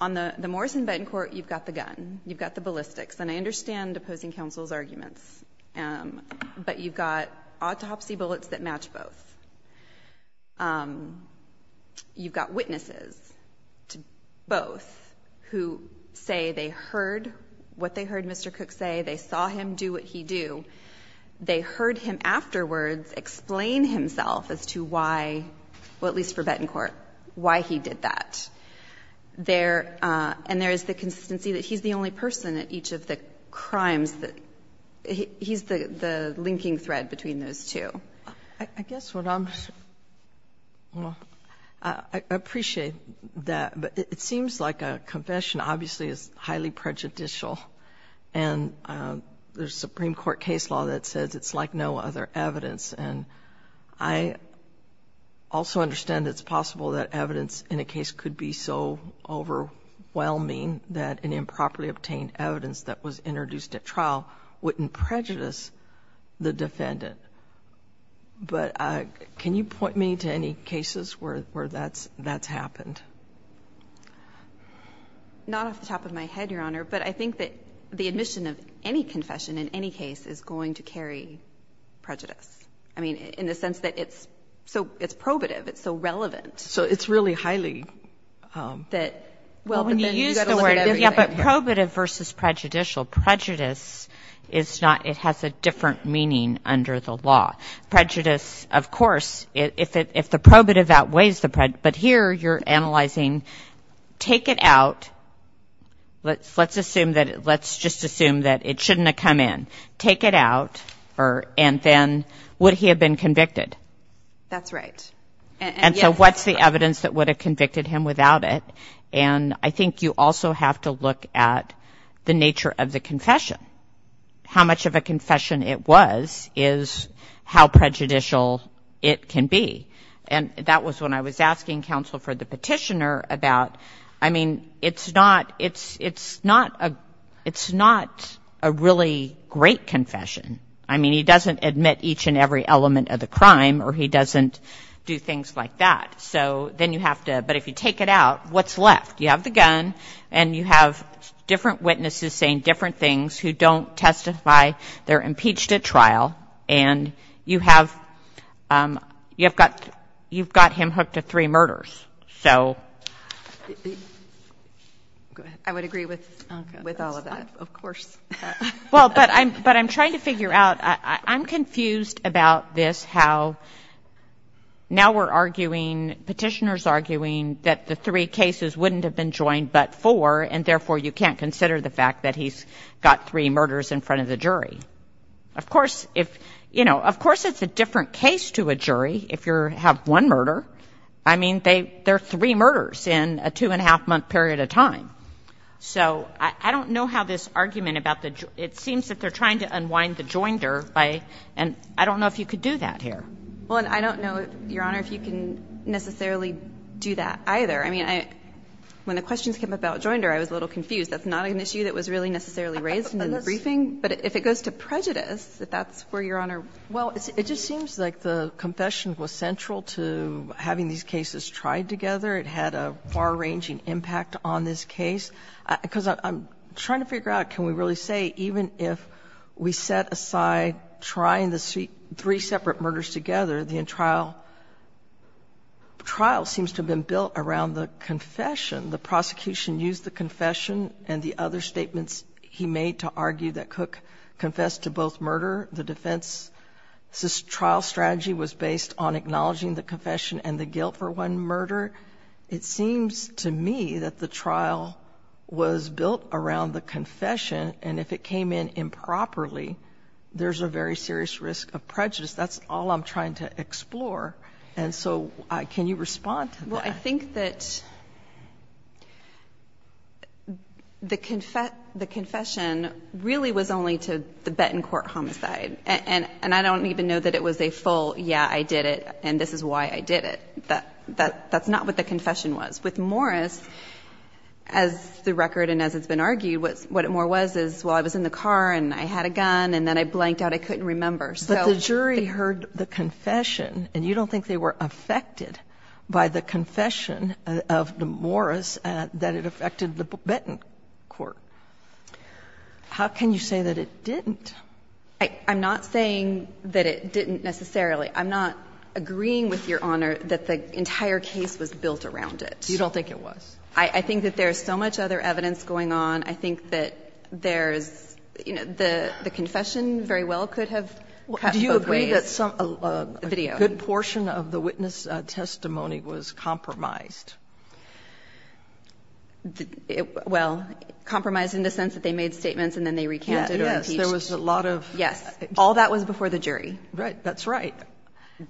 on the Morrison-Benton court, you've got the gun, you've got the ballistics, and I understand opposing counsel's arguments, but you've got autopsy bullets that match both. You've got witnesses to both who say they heard what they heard Mr. Cook say. They saw him do what he do. They heard him afterwards explain himself as to why, well, at least for Benton court, why he did that. And there is the consistency that he's the only person at each of the crimes. He's the linking thread between those two. I guess what I'm, well, I appreciate that, but it seems like a confession obviously is highly prejudicial, and there's a Supreme Court case law that says it's like no other evidence, and I also understand it's possible that evidence in a case could be so overwhelming that an improperly obtained evidence that was introduced at trial wouldn't prejudice the defendant. But can you point me to any cases where that's happened? Not off the top of my head, Your Honor, but I think that the admission of any confession in any case is going to carry prejudice, I mean, in the sense that it's probative, it's so relevant. So it's really highly— Well, when you use the word probative versus prejudicial, prejudice is not, it has a different meaning under the law. Prejudice, of course, if the probative outweighs the prejudice, but here you're analyzing take it out, let's just assume that it shouldn't have come in. Take it out, and then would he have been convicted? That's right. And so what's the evidence that would have convicted him without it? And I think you also have to look at the nature of the confession. How much of a confession it was is how prejudicial it can be. And that was when I was asking counsel for the petitioner about, I mean, it's not a really great confession. I mean, he doesn't admit each and every element of the crime, or he doesn't do things like that. So then you have to, but if you take it out, what's left? You have the gun, and you have different witnesses saying different things who don't testify, they're impeached at trial, and you've got him hooked to three murders. So— I would agree with all of that, of course. Well, but I'm trying to figure out, I'm confused about this, how now we're arguing, petitioners arguing, that the three cases wouldn't have been joined but four, and therefore you can't consider the fact that he's got three murders in front of the jury. Of course, if, you know, of course it's a different case to a jury if you have one murder. I mean, they're three murders in a two-and-a-half-month period of time. So I don't know how this argument about the, it seems that they're trying to unwind the joinder by, and I don't know if you could do that here. Well, and I don't know, Your Honor, if you can necessarily do that either. I mean, when the questions came about joinder, I was a little confused. That's not an issue that was really necessarily raised in the briefing. But if it goes to prejudice, if that's where Your Honor— Well, it just seems like the confession was central to having these cases tried together. It had a far-ranging impact on this case. Because I'm trying to figure out, can we really say, even if we set aside trying the three separate murders together, the trial seems to have been built around the confession. The prosecution used the confession and the other statements he made to argue that Cook confessed to both murder. The defense's trial strategy was based on acknowledging the confession and the guilt for one murder. It seems to me that the trial was built around the confession, and if it came in improperly, there's a very serious risk of prejudice. That's all I'm trying to explore. And so can you respond to that? Well, I think that the confession really was only to the Bettencourt homicide. And I don't even know that it was a full, yeah, I did it, and this is why I did it. That's not what the confession was. With Morris, as the record and as it's been argued, what it more was is, well, I was in the car and I had a gun and then I blanked out. I couldn't remember. But the jury heard the confession, and you don't think they were affected by the confession of the Morris that it affected the Bettencourt. How can you say that it didn't? I'm not saying that it didn't necessarily. I'm not agreeing with Your Honor that the entire case was built around it. You don't think it was? I think that there's so much other evidence going on. I think that there's, you know, the confession very well could have cut both ways. Do you agree that a good portion of the witness testimony was compromised? Well, compromised in the sense that they made statements and then they recanted or impeached. Yes. There was a lot of. All that was before the jury. Right. That's right.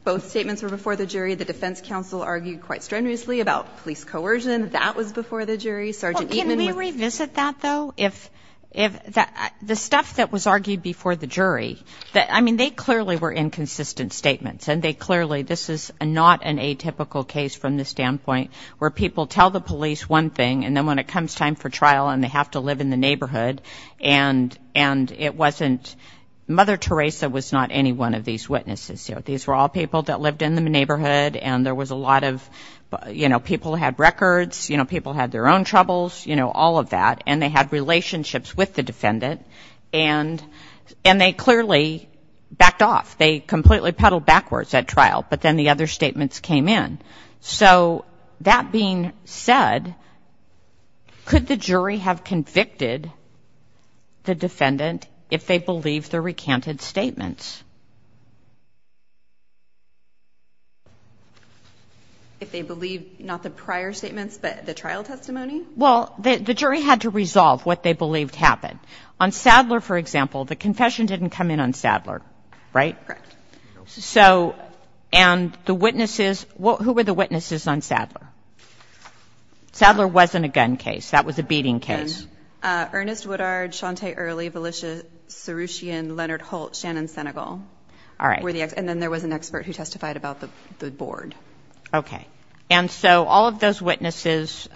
Both statements were before the jury. The defense counsel argued quite strenuously about police coercion. That was before the jury. Sergeant Eatman. Can we revisit that, though? If the stuff that was argued before the jury, I mean, they clearly were inconsistent statements, and they clearly, this is not an atypical case from the standpoint where people tell the police one thing and then when it comes time for trial and they have to live in the neighborhood and it wasn't, Mother Teresa was not any one of these witnesses. You know, these were all people that lived in the neighborhood and there was a lot of, you know, people had records, you know, people had their own troubles, you know, all of that, and they had relationships with the defendant, and they clearly backed off. They completely peddled backwards at trial, but then the other statements came in. So that being said, could the jury have convicted the defendant if they believed the recanted statements? If they believed not the prior statements but the trial testimony? Well, the jury had to resolve what they believed happened. On Sadler, for example, the confession didn't come in on Sadler, right? Correct. So, and the witnesses, who were the witnesses on Sadler? Sadler wasn't a gun case. That was a beating case. Ernest Woodard, Shante Early, Valesha Soroushian, Leonard Holt, Shannon Senegal. All right. And then there was an expert who testified about the board. Okay. And so all of those witnesses,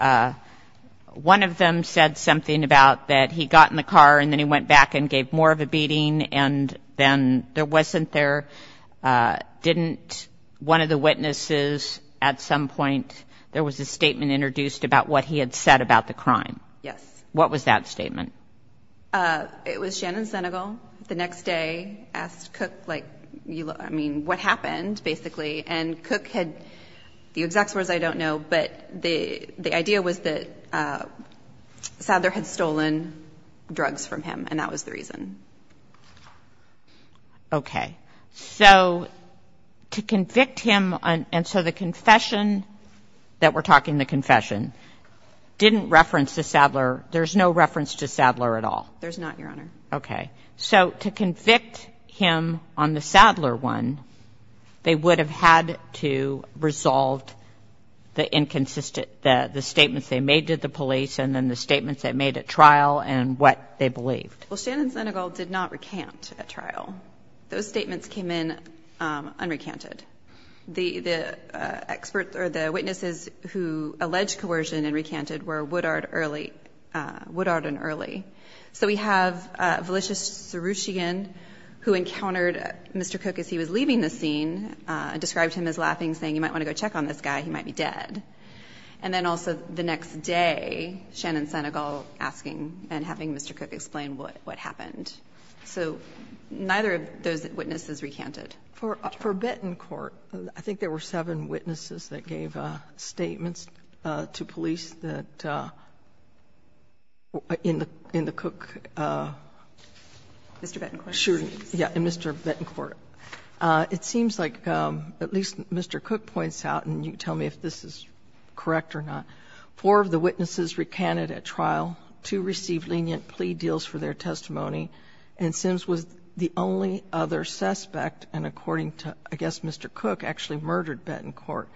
one of them said something about that he got in the car and then he went back and gave more of a beating, and then there wasn't there, didn't one of the witnesses at some point, there was a statement introduced about what he had said about the crime. Yes. What was that statement? It was Shannon Senegal the next day asked Cook, like, I mean, what happened, basically, and Cook had the exact words I don't know, but the idea was that Sadler had stolen drugs from him, and that was the reason. Okay. So to convict him on, and so the confession, that we're talking the confession, didn't reference the Sadler, there's no reference to Sadler at all? There's not, Your Honor. Okay. So to convict him on the Sadler one, they would have had to resolve the inconsistent, the statements they made to the police and then the statements they made at trial and what they believed. Well, Shannon Senegal did not recant at trial. Those statements came in unrecanted. The experts or the witnesses who alleged coercion and recanted were Woodard and Early. So we have Valicious Soroushian, who encountered Mr. Cook as he was leaving the scene, described him as laughing, saying, you might want to go check on this guy, he might be dead. And then also the next day, Shannon Senegal asking and having Mr. Cook explain what happened. So neither of those witnesses recanted. For Betancourt, I think there were seven witnesses that gave statements to police that in the Cook. Mr. Betancourt. Yeah, in Mr. Betancourt. It seems like at least Mr. Cook points out, and you can tell me if this is correct or not, four of the witnesses recanted at trial, two received lenient plea deals for their testimony, and Sims was the only other suspect. And according to, I guess, Mr. Cook actually murdered Betancourt.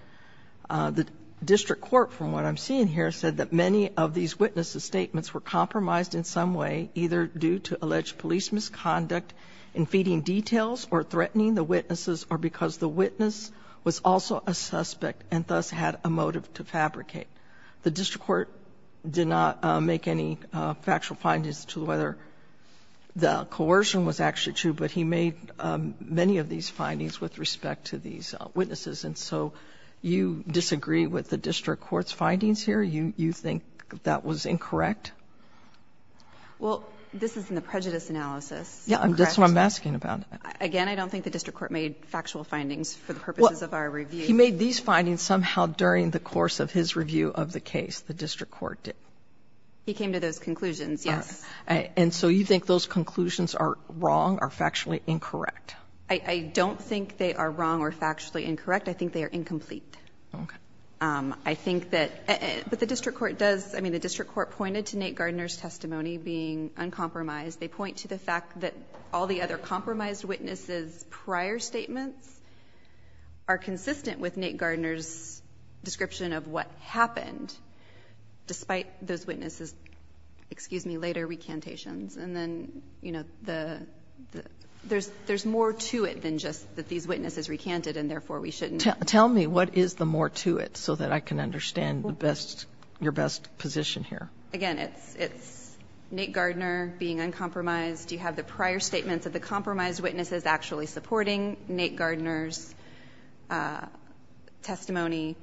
The district court, from what I'm seeing here, said that many of these witnesses' statements were compromised in some way, either due to alleged police misconduct in feeding details or threatening the witnesses or because the witness was also a suspect and thus had a motive to fabricate. The district court did not make any factual findings to whether the coercion was actually true, but he made many of these findings with respect to these witnesses. And so you disagree with the district court's findings here? You think that was incorrect? Well, this is in the prejudice analysis. Yeah, that's what I'm asking about. Again, I don't think the district court made factual findings for the purposes of our review. He made these findings somehow during the course of his review of the case, the district court did. He came to those conclusions, yes. And so you think those conclusions are wrong or factually incorrect? I don't think they are wrong or factually incorrect. I think they are incomplete. Okay. I think that the district court does. I mean, the district court pointed to Nate Gardner's testimony being uncompromised. They point to the fact that all the other compromised witnesses' prior statements are consistent with Nate Gardner's description of what happened, despite those witnesses' later recantations. And then, you know, there's more to it than just that these witnesses recanted and therefore we shouldn't. Tell me what is the more to it so that I can understand your best position here. Again, it's Nate Gardner being uncompromised. You have the prior statements of the compromised witnesses actually supporting Nate Gardner's testimony.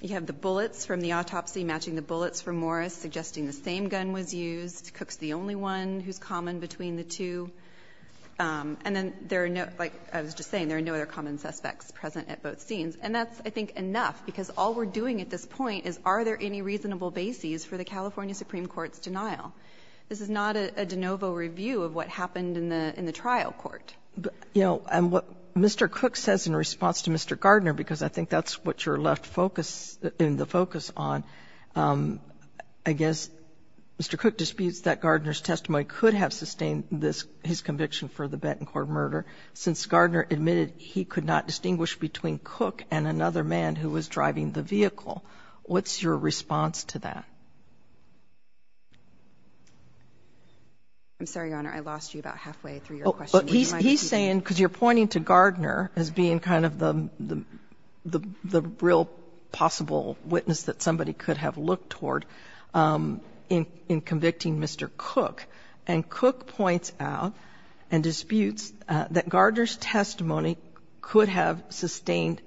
You have the bullets from the autopsy matching the bullets from Morris, suggesting the same gun was used. Cook's the only one who's common between the two. And then there are no, like I was just saying, there are no other common suspects present at both scenes. And that's, I think, enough because all we're doing at this point is are there any reasonable bases for the California Supreme Court's denial. This is not a de novo review of what happened in the trial court. You know, and what Mr. Cook says in response to Mr. Gardner, because I think that's what you're left in the focus on, I guess Mr. Cook disputes that Gardner's testimony could have sustained his conviction for the Benton Court murder since Gardner admitted he could not distinguish between Cook and another man who was driving the vehicle. What's your response to that? I'm sorry, Your Honor, I lost you about halfway through your question. He's saying, because you're pointing to Gardner as being kind of the real possible witness that somebody could have looked toward in convicting Mr. Cook. And Cook points out and disputes that Gardner's testimony could have sustained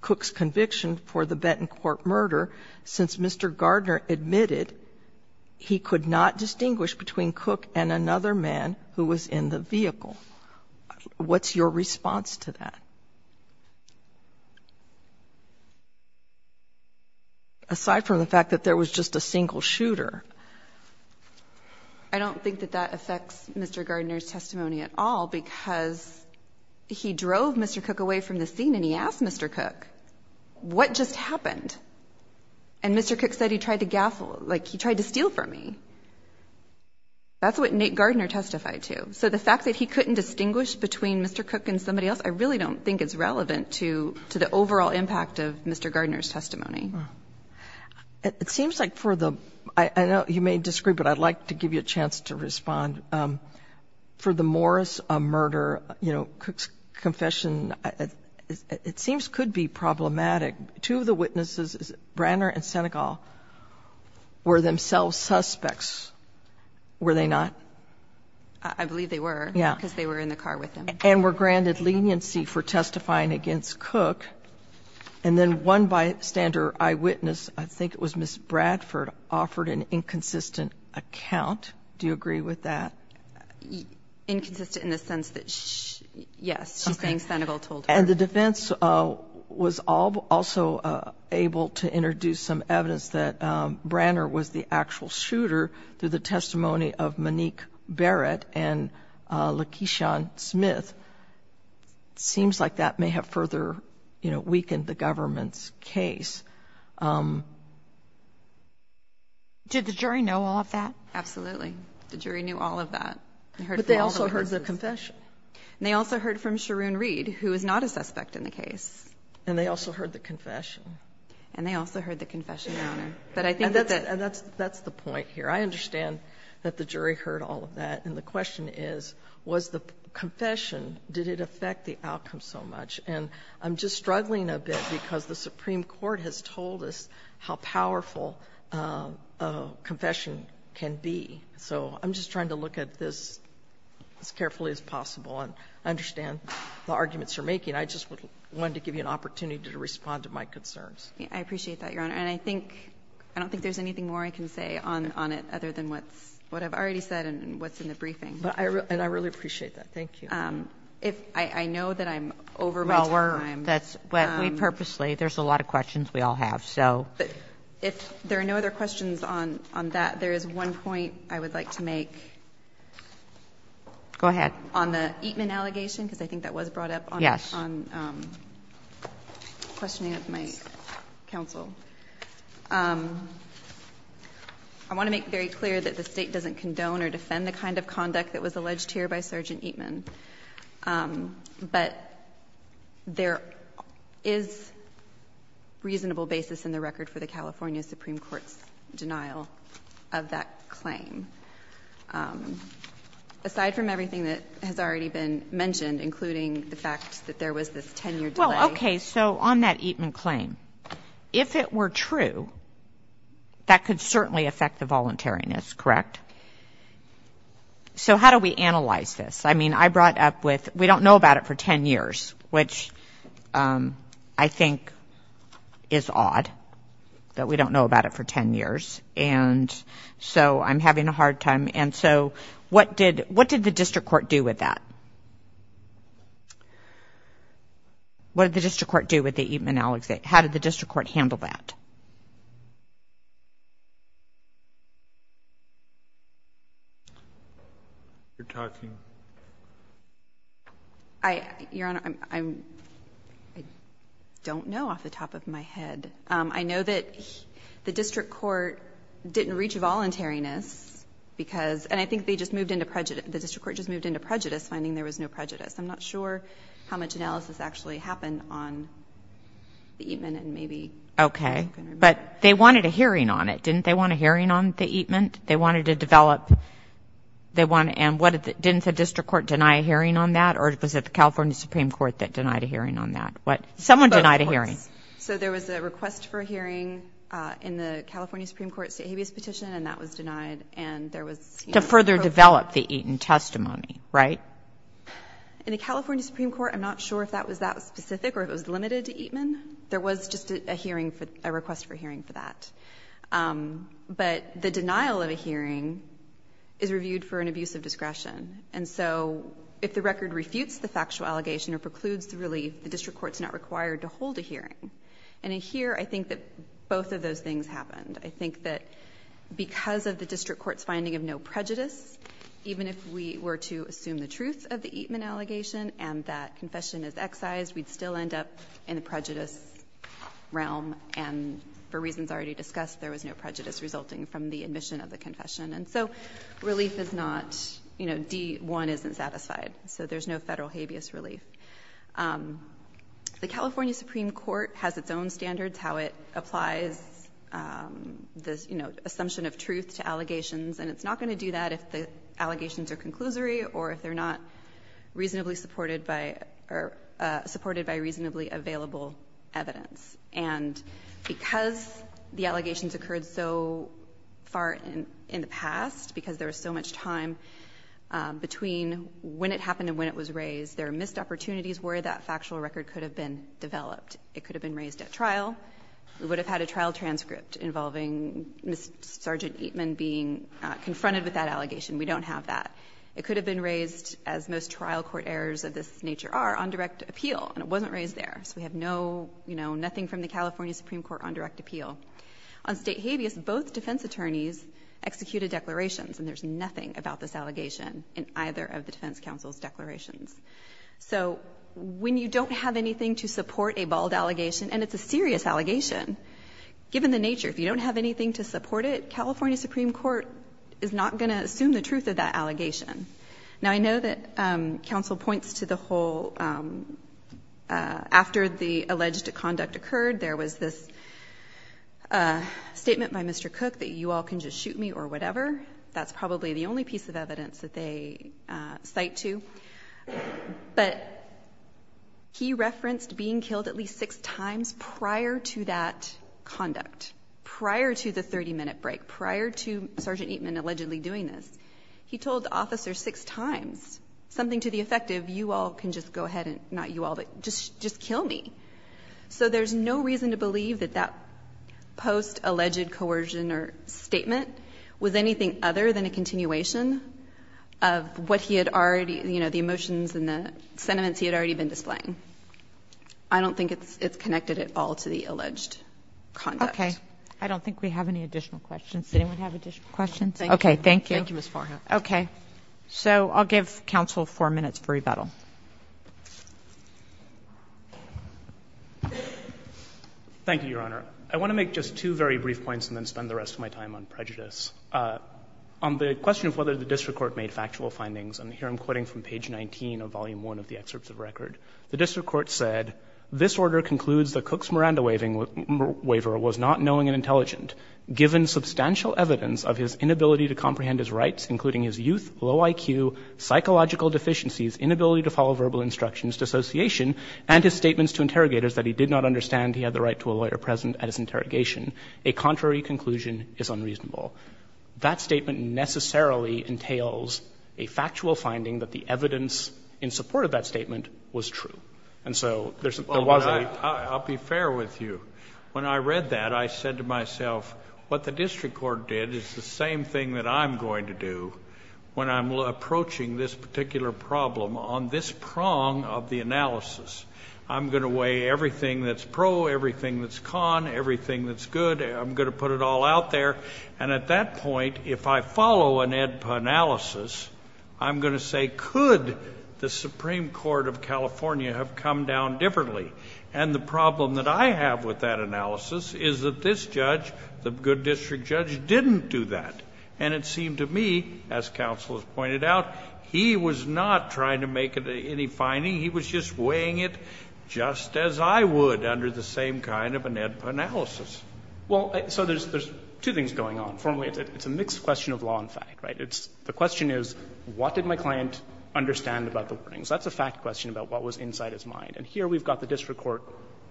Cook's conviction for the Benton Court murder since Mr. Gardner admitted he could not distinguish between Cook and another man who was in the vehicle. What's your response to that? Aside from the fact that there was just a single shooter. I don't think that that affects Mr. Gardner's testimony at all because he drove Mr. Cook away from the scene and he asked Mr. Cook, what just happened? And Mr. Cook said he tried to gaffle, like he tried to steal from me. That's what Nate Gardner testified to. So the fact that he couldn't distinguish between Mr. Cook and somebody else, I really don't think it's relevant to the overall impact of Mr. Gardner's testimony. It seems like for the, I know you may disagree, but I'd like to give you a chance to respond. For the Morris murder, you know, Cook's confession, it seems could be problematic. Two of the witnesses, Branner and Senegal, were themselves suspects, were they not? I believe they were because they were in the car with him. And were granted leniency for testifying against Cook. And then one bystander eyewitness, I think it was Ms. Bradford, offered an inconsistent account. Do you agree with that? Inconsistent in the sense that, yes, she's saying Senegal told her. And the defense was also able to introduce some evidence that Branner was the actual shooter through the testimony of Monique Barrett and Lakeisha Smith. It seems like that may have further, you know, weakened the government's case. Did the jury know all of that? Absolutely. The jury knew all of that. But they also heard the confession. And they also heard from Sharoon Reed, who is not a suspect in the case. And they also heard the confession. And they also heard the confession, Your Honor. And that's the point here. I understand that the jury heard all of that. And the question is, was the confession, did it affect the outcome so much? And I'm just struggling a bit because the Supreme Court has told us how powerful a confession can be. So I'm just trying to look at this as carefully as possible. And I understand the arguments you're making. I just wanted to give you an opportunity to respond to my concerns. I appreciate that, Your Honor. And I don't think there's anything more I can say on it other than what I've already said and what's in the briefing. And I really appreciate that. Thank you. I know that I'm over my time. Well, we purposely, there's a lot of questions we all have. If there are no other questions on that, there is one point I would like to make. Go ahead. On the Eatman allegation, because I think that was brought up on questioning of my counsel. I want to make very clear that the state doesn't condone or defend the kind of conduct that was alleged here by Sergeant Eatman. But there is reasonable basis in the record for the California Supreme Court's denial of that claim. Aside from everything that has already been mentioned, including the fact that there was this 10-year delay. Well, okay, so on that Eatman claim, if it were true, that could certainly affect the voluntariness, correct? So how do we analyze this? I mean, I brought up with we don't know about it for 10 years, which I think is odd that we don't know about it for 10 years. And so I'm having a hard time. And so what did the district court do with that? What did the district court do with the Eatman allegation? How did the district court handle that? You're talking. Your Honor, I don't know off the top of my head. I know that the district court didn't reach voluntariness because, and I think they just moved into prejudice. The district court just moved into prejudice, finding there was no prejudice. I'm not sure how much analysis actually happened on the Eatman and maybe. Okay. But they wanted a hearing on it. Didn't they want a hearing on the Eatman? They wanted to develop. And didn't the district court deny a hearing on that? Or was it the California Supreme Court that denied a hearing on that? Someone denied a hearing. So there was a request for a hearing in the California Supreme Court state habeas petition, and that was denied. To further develop the Eatman testimony, right? In the California Supreme Court, I'm not sure if that was that specific or if it was limited to Eatman. There was just a hearing, a request for a hearing for that. But the denial of a hearing is reviewed for an abuse of discretion. And so if the record refutes the factual allegation or precludes the relief, the district court is not required to hold a hearing. And in here, I think that both of those things happened. I think that because of the district court's finding of no prejudice, even if we were to assume the truth of the Eatman allegation and that confession is excised, we'd still end up in the prejudice realm. And for reasons already discussed, there was no prejudice resulting from the admission of the confession. And so relief is not, you know, D-1 isn't satisfied. So there's no federal habeas relief. The California Supreme Court has its own standards, how it applies the, you know, assumption of truth to allegations. And it's not going to do that if the allegations are conclusory or if they're not reasonably supported by or supported by reasonably available evidence. And because the allegations occurred so far in the past, because there was so much time between when it happened and when it was raised, there are missed opportunities where that factual record could have been developed. It could have been raised at trial. We would have had a trial transcript involving Sergeant Eatman being confronted with that allegation. We don't have that. It could have been raised, as most trial court errors of this nature are, on direct appeal. And it wasn't raised there. So we have no, you know, nothing from the California Supreme Court on direct appeal. On state habeas, both defense attorneys executed declarations, and there's nothing about this allegation in either of the defense counsel's declarations. So when you don't have anything to support a bald allegation, and it's a serious allegation, given the nature, if you don't have anything to support it, California Supreme Court is not going to assume the truth of that allegation. Now, I know that counsel points to the whole, after the alleged conduct occurred, there was this statement by Mr. Cook that you all can just shoot me or whatever. That's probably the only piece of evidence that they cite to. But he referenced being killed at least six times prior to that conduct, prior to the 30-minute break, prior to Sergeant Eatman allegedly doing this. He told officers six times, something to the effect of you all can just go ahead and, not you all, but just kill me. So there's no reason to believe that that post-alleged coercion or statement was anything other than a continuation of what he had already, you know, the emotions and the sentiments he had already been displaying. I don't think it's connected at all to the alleged conduct. Okay. I don't think we have any additional questions. Does anyone have additional questions? Okay, thank you. Thank you, Ms. Farha. Okay. So I'll give counsel four minutes for rebuttal. Thank you, Your Honor. I want to make just two very brief points and then spend the rest of my time on prejudice. On the question of whether the district court made factual findings, and here I'm quoting from page 19 of volume 1 of the excerpts of record, the district court said, given substantial evidence of his inability to comprehend his rights, including his youth, low IQ, psychological deficiencies, inability to follow verbal instructions, dissociation, and his statements to interrogators that he did not understand he had the right to a lawyer present at his interrogation, a contrary conclusion is unreasonable. That statement necessarily entails a factual finding that the evidence in support of that statement was true. And so there wasn't any. I'll be fair with you. When I read that, I said to myself, what the district court did is the same thing that I'm going to do when I'm approaching this particular problem on this prong of the analysis. I'm going to weigh everything that's pro, everything that's con, everything that's good. I'm going to put it all out there. And at that point, if I follow an analysis, I'm going to say could the Supreme Court of California have come down differently? And the problem that I have with that analysis is that this judge, the good district judge, didn't do that. And it seemed to me, as counsel has pointed out, he was not trying to make any finding. He was just weighing it just as I would under the same kind of analysis. Well, so there's two things going on. Formally, it's a mixed question of law and fact, right? The question is what did my client understand about the warnings? That's a fact question about what was inside his mind. And here we've got the district court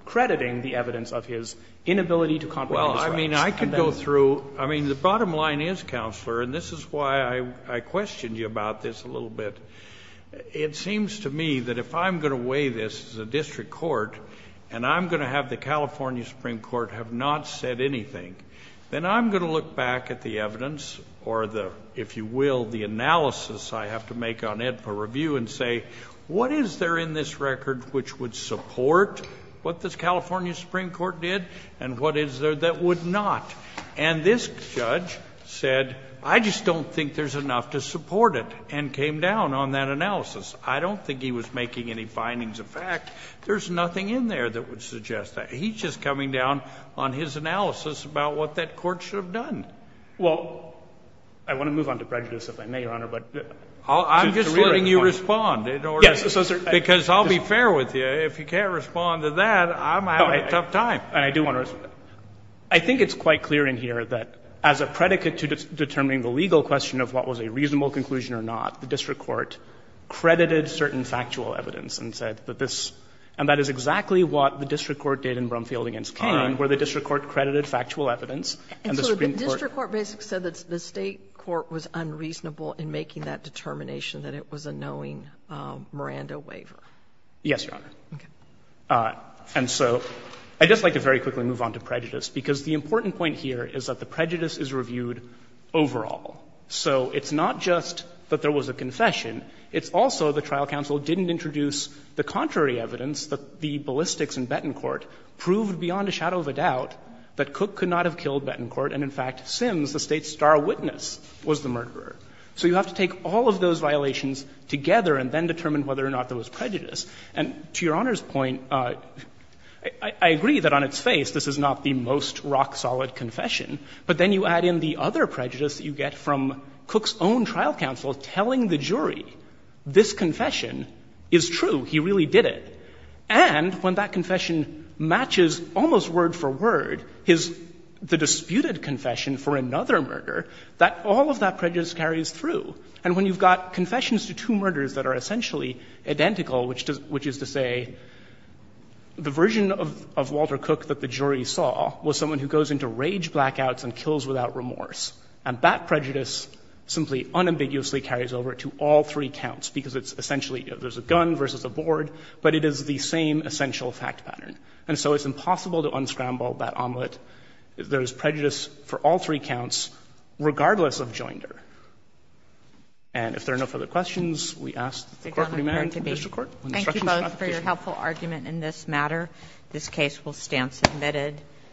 crediting the evidence of his inability to comprehend his rights. Well, I mean, I could go through. I mean, the bottom line is, Counselor, and this is why I questioned you about this a little bit, it seems to me that if I'm going to weigh this as a district court and I'm going to have the California Supreme Court have not said anything, then I'm going to look back at the evidence or the, if you will, the analysis I have to make on it for review and say what is there in this record which would support what the California Supreme Court did and what is there that would not? And this judge said, I just don't think there's enough to support it, and came down on that analysis. I don't think he was making any findings of fact. There's nothing in there that would suggest that. He's just coming down on his analysis about what that court should have done. Well, I want to move on to prejudice if I may, Your Honor. I'm just letting you respond. Yes. Because I'll be fair with you. If you can't respond to that, I'm having a tough time. I do want to respond. I think it's quite clear in here that as a predicate to determining the legal question of what was a reasonable conclusion or not, the district court credited certain factual evidence and said that this, and that is exactly what the district court did in Brumfield v. Cain, where the district court credited factual evidence. And so the district court basically said that the State court was unreasonable in making that determination that it was a knowing Miranda waiver. Yes, Your Honor. Okay. And so I'd just like to very quickly move on to prejudice, because the important point here is that the prejudice is reviewed overall. So it's not just that there was a confession. It's also the trial counsel didn't introduce the contrary evidence that the ballistics in Betancourt proved beyond a shadow of a doubt that Cook could not have killed Betancourt, and in fact, Sims, the State's star witness, was the murderer. So you have to take all of those violations together and then determine whether or not there was prejudice. And to Your Honor's point, I agree that on its face this is not the most rock-solid confession, but then you add in the other prejudice that you get from Cook's own trial counsel telling the jury this confession is true, he really did it, and when that is a disputed confession for another murder, all of that prejudice carries through. And when you've got confessions to two murders that are essentially identical, which is to say the version of Walter Cook that the jury saw was someone who goes into rage blackouts and kills without remorse, and that prejudice simply unambiguously carries over to all three counts, because it's essentially there's a gun versus a board, but it is the same essential fact pattern. And so it's impossible to unscramble that omelet. There is prejudice for all three counts, regardless of joinder. And if there are no further questions, we ask that the Court remain in the district court. When instructions are not issued. Kagan. Thank you both for your helpful argument in this matter. This case will stand submitted.